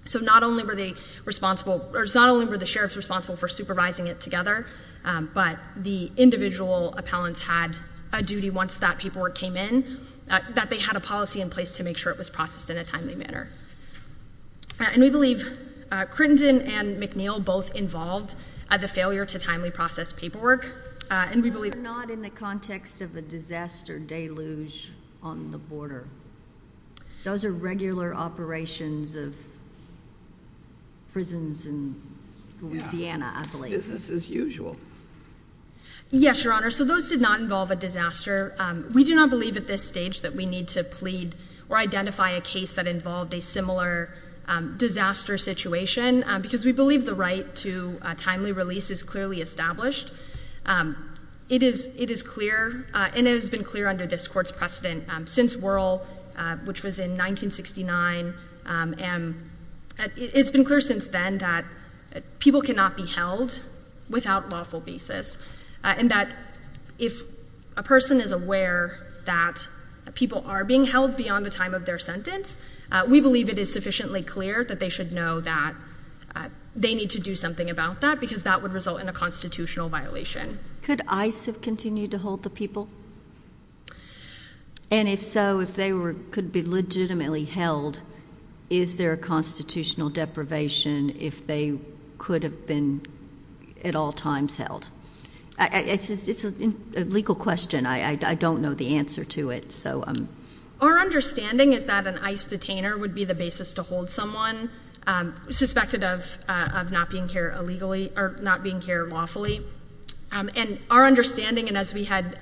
So not only were they responsible... Not only were the sheriffs responsible for supervising it together, but the individual appellants had a duty once that paperwork came in that they had a policy in place to make sure it was processed in a timely manner. And we believe Crittenden and McNeil both involved the failure to timely process paperwork. And we believe... Not in the context of a disaster deluge on the border. Those are regular operations of prisons in Louisiana, I believe. Business as usual. Yes, Your Honor. So those did not involve a disaster. We do not believe at this stage that we need to plead or identify a case that involved a similar disaster situation because we believe the right to a timely release is clearly established. It is clear, and it has been clear under this Court's precedent since Wuerl, which was in 1969, and it's been clear since then that people cannot be held without lawful basis. And that if a person is aware that people are being held beyond the time of their sentence, we believe it is sufficiently clear that they should know that they need to do something about that because that would result in a constitutional violation. Could ICE have continued to hold the people? And if so, if they could be legitimately held, is there a constitutional deprivation if they could have been at all times held? It's a legal question. I don't know the answer to it. Our understanding is that an ICE detainer would be the basis to hold someone suspected of not being cared lawfully. And our understanding, and as we had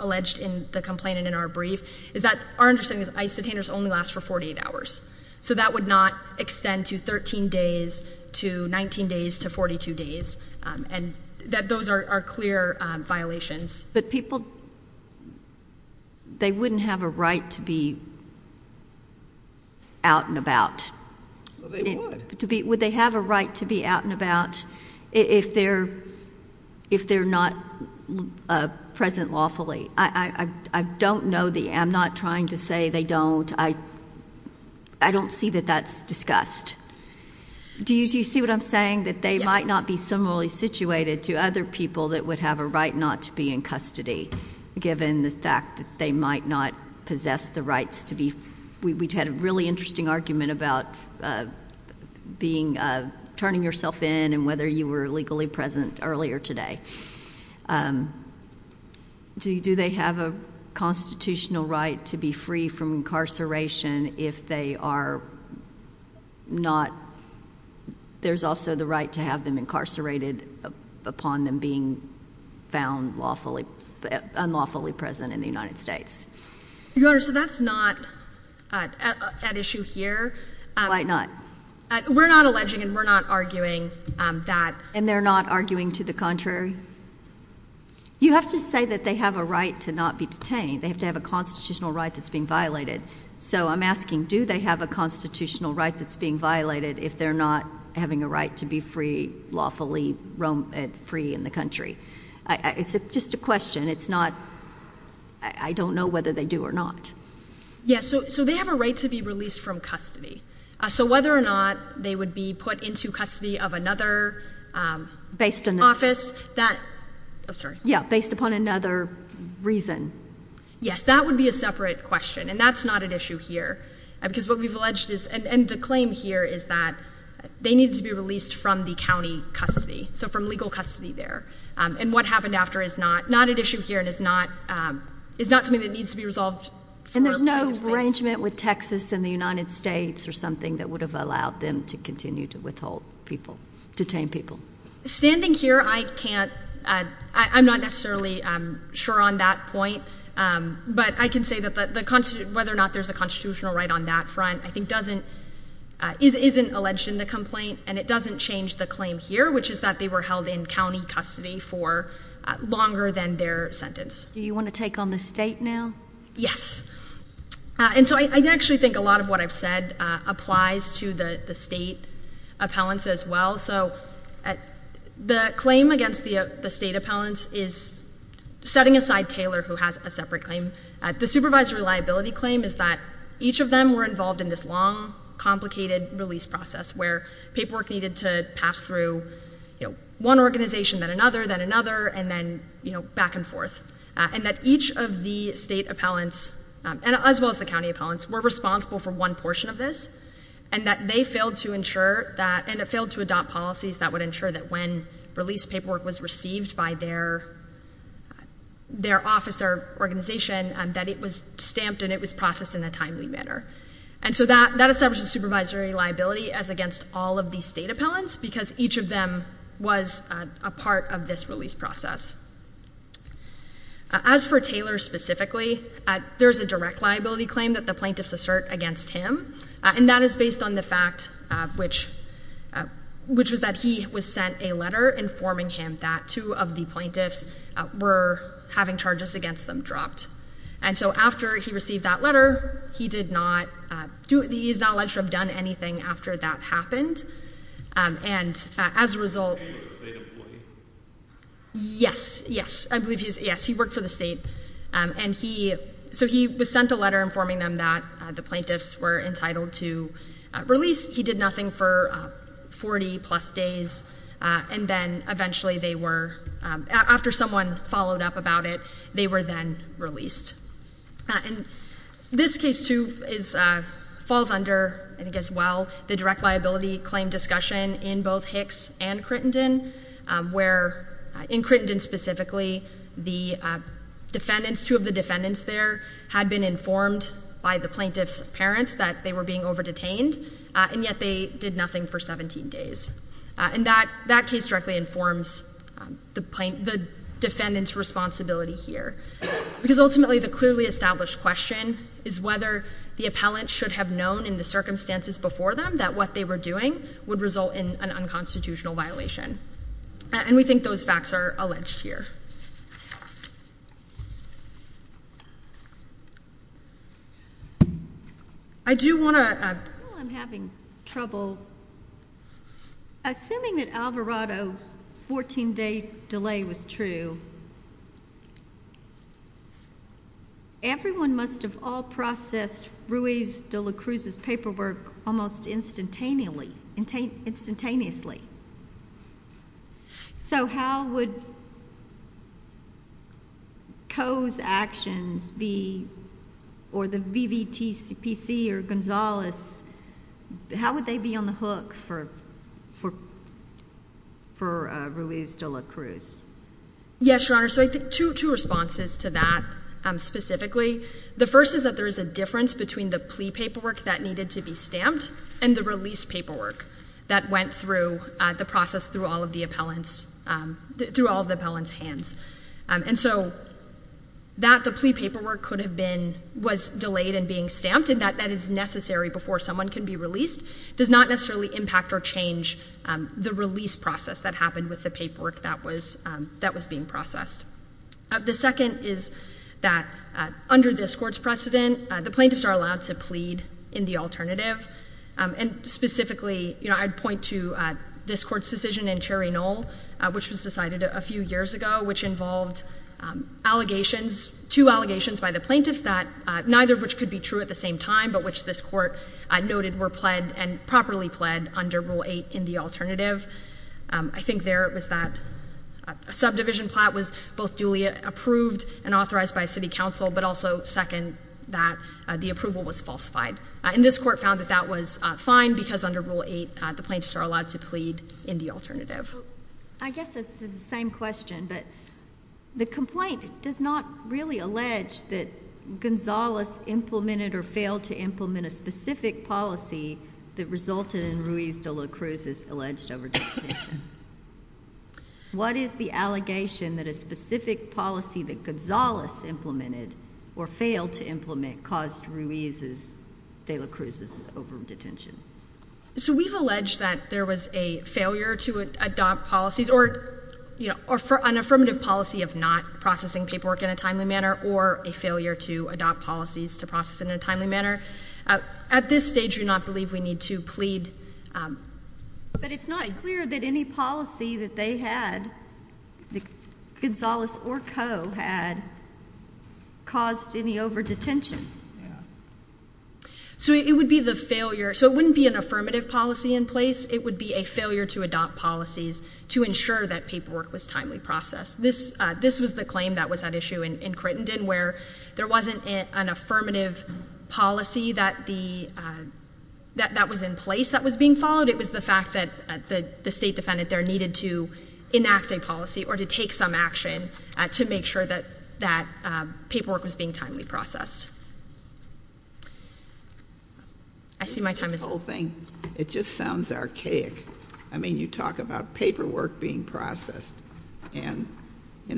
alleged in the complaint and in our brief, is that our understanding is that ICE detainers only last for 48 hours. So that would not extend to 13 days, to 19 days, to 42 days. And those are clear violations. But people, they wouldn't have a right to be out and about. Would they have a right to be out and about if they're not present lawfully? I don't know the answer. I'm not trying to say they don't. I don't see that that's discussed. Do you see what I'm saying? That they might not be similarly situated to other people that would have a right not to be in custody, given the fact that they might not possess the rights to be. We've had a really interesting argument about turning yourself in and whether you were legally present earlier today. Do they have a constitutional right to be free from incarceration if they are not, there's also the right to have them incarcerated upon them being found unlawfully present in the United States? Your Honor, so that's not at issue here. Why not? We're not alleging and we're not arguing that. And they're not arguing to the contrary? You have to say that they have a right to not be detained. They have to have a constitutional right that's being violated. So I'm asking, do they have a constitutional right that's being violated if they're not having a right to be free, lawfully free in the country? It's just a question. It's not, I don't know whether they do or not. Yes, so they have a right to be released from custody. So whether or not they would be put into custody of another office, that, oh, sorry. Yeah, based upon another reason. Yes, that would be a separate question, and that's not an issue here. Because what we've alleged is, and the claim here is that they need to be released from the county custody, so from legal custody there. And what happened after is not an issue here and is not something that needs to be resolved. And there's no arrangement with Texas and the United States or something that would have allowed them to continue to withhold people, detain people? Standing here, I can't, I'm not necessarily sure on that point, but I can say that whether or not there's a constitutional right on that front, I think isn't alleged in the complaint and it doesn't change the claim here, which is that they were held in county custody for longer than their sentence. Do you want to take on the state now? Yes. And so I actually think a lot of what I've said applies to the state appellants as well. So the claim against the state appellants is setting aside Taylor, who has a separate claim. The supervised reliability claim is that each of them were involved in this long, complicated release process where paperwork needed to pass through one organization, then another, then another, and then back and forth. And that each of the state appellants, as well as the county appellants, were responsible for one portion of this and that they failed to ensure that, and failed to adopt policies that would ensure that when released paperwork was received by their office or organization, that it was stamped and it was processed in a timely manner. And so that establishes supervisory liability as against all of the state appellants because each of them was a part of this release process. As for Taylor specifically, there's a direct liability claim that the plaintiffs assert against him, and that is based on the fact which was that he was sent a letter informing him that two of the plaintiffs were having charges against them dropped. And so after he received that letter, he is not alleged to have done anything after that happened. And as a result... Yes, yes, I believe he's, yes, he works in the state. And he, so he was sent a letter informing them that the plaintiffs were entitled to release. He did nothing for 40 plus days, and then eventually they were, after someone followed up about it, they were then released. And this case too is, falls under, I guess, well, the direct liability claim discussion in both Hicks and Crittenden, where, in Crittenden specifically, the defendants, two of the defendants there, had been informed by the plaintiff's parents that they were being over-detained, and yet they did nothing for 17 days. And that case directly informs the defendant's responsibility here. Because ultimately the clearly established question is whether the appellant should have known in the circumstances before them that what they were doing would result in an unconstitutional violation. And we think those facts are alleged here. I do want to... I'm having trouble. Assuming that Alvarado's 14-day delay was true, everyone must have all processed Ruiz de la Cruz's paperwork almost instantaneously. So how would Coe's actions be, or the VVTCPC or Gonzales, how would they be on the hook for Ruiz de la Cruz? Yes, Your Honor. So two responses to that specifically. The first is that there is a difference between the plea paperwork that needed to be stamped and the release paperwork that went through the process through all of the appellant's hands. And so that the plea paperwork was delayed and being stamped and that that is necessary before someone can be released does not necessarily impact or change the release process that happened with the paperwork that was being processed. The second is that under this Court's precedent, the plaintiffs are allowed to plead in the alternative. And specifically, you know, I'd point to this Court's decision in Cherry Knoll, which was decided a few years ago, which involved allegations, two allegations by the plaintiffs that neither of which could be true at the same time, but which this Court noted were pled and properly pled under Rule 8 in the alternative. I think there it was that subdivision plot was both duly approved and authorized by City Council, but also, second, that the approval was falsified. And this Court found that that was fine because under Rule 8, the plaintiffs are allowed to plead in the alternative. I guess it's the same question, but the complaint does not really allege that Gonzales implemented or failed to implement a specific policy that resulted in Ruiz de la Cruz's alleged overdue detention. What is the allegation that a specific policy that Gonzales implemented or failed to implement caused Ruiz de la Cruz's overdue detention? So we've alleged that there was a failure to adopt policies or, you know, an affirmative policy of not processing paperwork in a timely manner or a failure to adopt policies to process in a timely manner. At this stage, you're not to leave. We need to plead. But it's not clear that any policy that they had, that Gonzales or Co. had, caused any overdue detention. So it would be the failure. So it wouldn't be an affirmative policy in place. It would be a failure to adopt policies to ensure that paperwork was timely processed. This was the claim that was at issue in Crittenden where there wasn't an affirmative policy that was in place that was being followed. It was the fact that the state defendant there needed to enact a policy or to take some action to make sure that paperwork was being timely processed. I see my time is over. It just sounds archaic. I mean, you talk about paperwork being processed in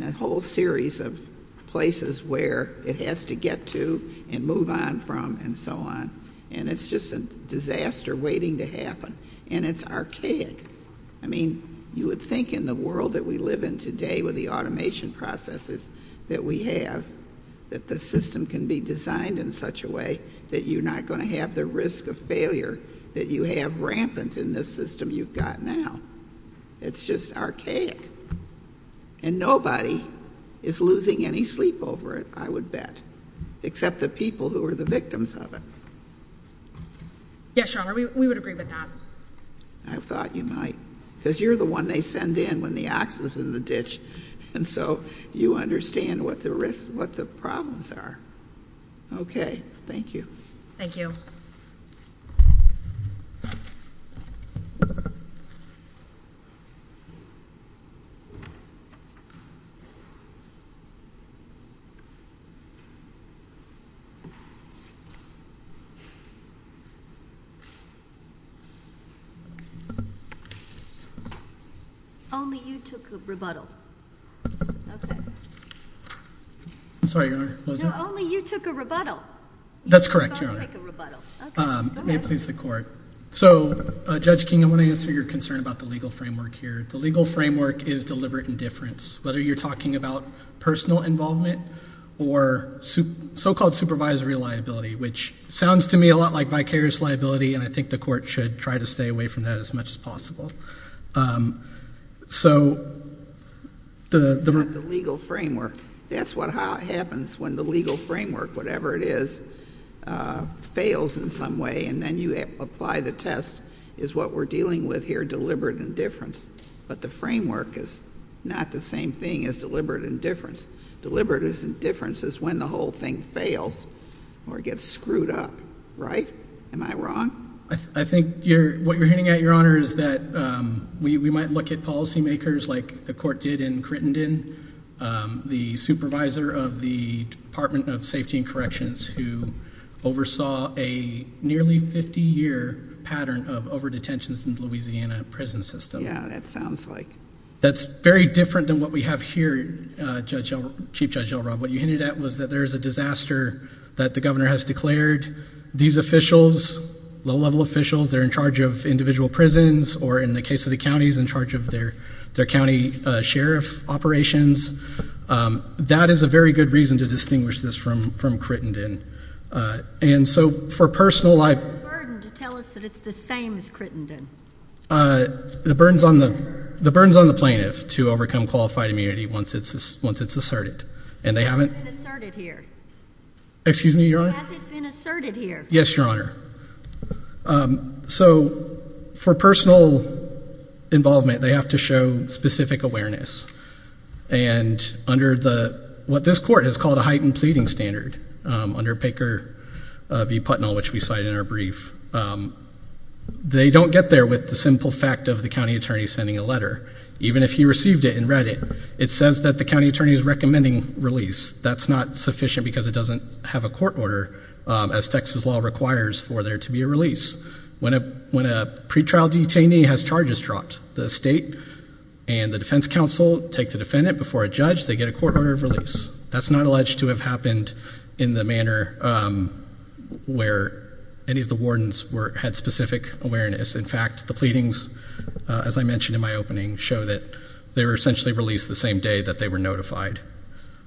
a whole series of places where it has to get to and move on from and so on. And it's just a disaster waiting to happen. And it's archaic. I mean, you would think in the world that we live in today with the automation processes that we have that the system can be designed in such a way that you're not going to have the risk of failure that you have rampant in this system you've got now. It's just archaic. And nobody is losing any sleep over it, I would bet. Except the people who are the victims of it. Yes, Sharma, we would agree with that. I thought you might. Because you're the one they send in when the ox is in the ditch. And so you understand what the risks, what the problems are. Okay, thank you. Thank you. Thank you. Only you took a rebuttal. Okay. I'm sorry, Your Honor. Only you took a rebuttal. That's correct, Your Honor. May it please the Court. So, Judge King, I want to answer your concern about the legal framework here. The legal framework is deliberate indifference. Whether you're talking about personal involvement or so-called supervisory liability, which sounds to me a lot like vicarious liability, and I think the Court should try to stay away from that as much as possible. So... The legal framework. That's what happens when the legal framework, whatever it is, fails in some way, and then you apply the test, is what we're dealing with here, deliberate indifference. But the framework is not the same thing as deliberate indifference. Deliberate indifference is when the whole thing fails or gets screwed up. Right? Am I wrong? I think what you're hinting at, Your Honor, is that we might look at policymakers like the Court did in Crittenden, the supervisor of the Department of Safety and Corrections who oversaw a nearly 50-year pattern of overdetentions in the Louisiana prison system. Yeah, that sounds like... That's very different than what we have here, Chief Judge Elrod. What you hinted at was that there is a disaster that the governor has declared. These officials, low-level officials, they're in charge of individual prisons or, in the case of the counties, in charge of their county sheriff operations. That is a very good reason to distinguish this from Crittenden. And so, for personal... What's the burden to tell us that it's the same as Crittenden? The burden's on the plaintiff to overcome qualified immunity once it's asserted. And they haven't... Has it been asserted here? Excuse me, Your Honor? Has it been asserted here? Yes, Your Honor. So, for personal involvement, they have to show specific awareness. And under what this court has called a heightened pleading standard, under Baker v. Putnam, which we cite in our brief, they don't get there with the simple fact of the county attorney sending a letter. Even if you received it and read it, it says that the county attorney is recommending release. That's not sufficient because it doesn't have a court order, as Texas law requires for there to be a release. When a pretrial detainee has charges dropped, the state and the defense counsel take the defendant before a judge, they get a court order of release. That's not alleged to have happened in the manner where any of the wardens had specific awareness. In fact, the pleadings, as I mentioned in my opening, show that they were essentially released the same day that they were notified.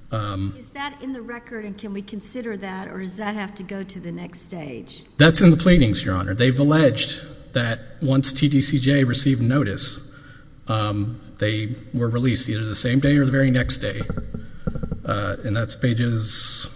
Is that in the record, and can we consider that, or does that have to go to the next stage? That's in the pleadings, Your Honor. They've alleged that once TDCJ received notice, they were released either the same day or the very next day. And that's pages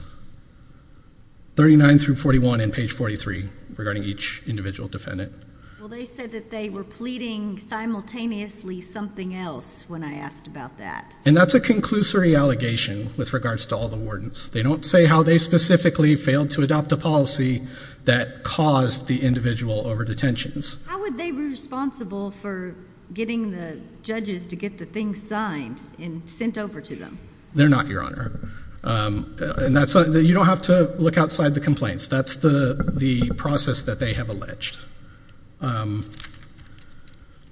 39 through 41 in page 43 regarding each individual defendant. Well, they said that they were pleading simultaneously something else when I asked about that. And that's a conclusory allegation with regards to all the wardens. They don't say how they specifically failed to adopt a policy that caused the individual over detentions. How would they be responsible for getting the judges to get the things signed and sent over to them? They're not, Your Honor. And you don't have to look outside the complaints. That's the process that they have alleged. You're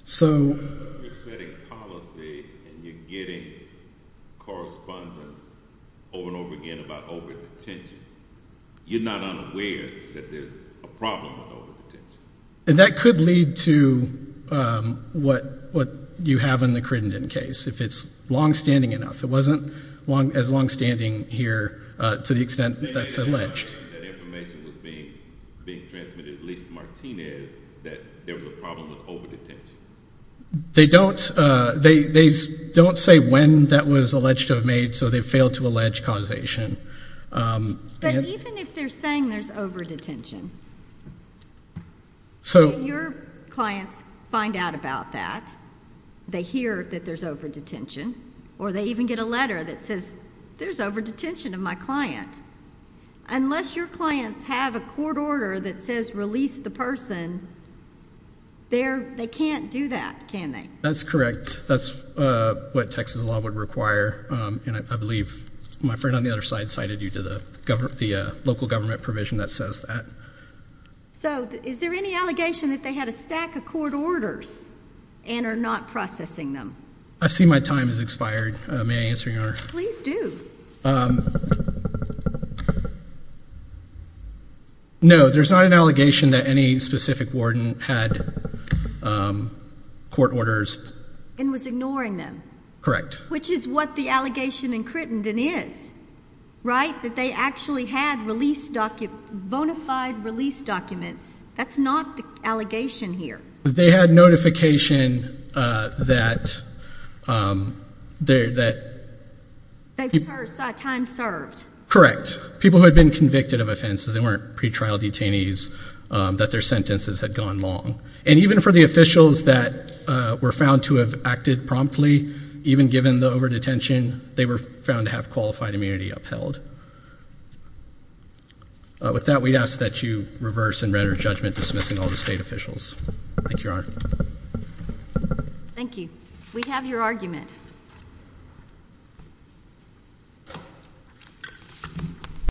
setting a policy and you're getting correspondence over and over again about over detentions. You're not unaware that there's a problem with over detentions. And that could lead to what you have in the Crittenden case, if it's long-standing enough. It wasn't as long-standing here to the extent that's alleged. That information was being transmitted, at least Martinez, that there was a problem with over detentions. They don't say when that was alleged to have made, so they failed to allege causation. But even if they're saying there's over detention, if your clients find out about that, they hear that there's over detention, or they even get a letter that says, there's over detention of my client. Unless your clients have a court order that says release the person, they can't do that, can they? That's correct. That's what Texas law would require. And I believe my friend on the other side cited you to the local government provision that says that. So is there any allegation that they had a stack of court orders and are not processing them? I see my time has expired. May I answer your question? Please do. No, there's not an allegation that any specific warden had court orders. And was ignoring them. Correct. Which is what the allegation in Crittenden is. Right? That they actually had released documents, bona fide release documents. That's not the allegation here. They had notification that. They served, that time served. Correct. People who had been convicted of offenses and weren't pretrial detainees, that their sentences had gone long. And even for the officials that were found to have acted promptly, even given the over-detention, they were found to have qualified immunity upheld. With that, we ask that you reverse and render judgment dismissing all the state officials. Thank you, Your Honor. Thank you. We have your argument.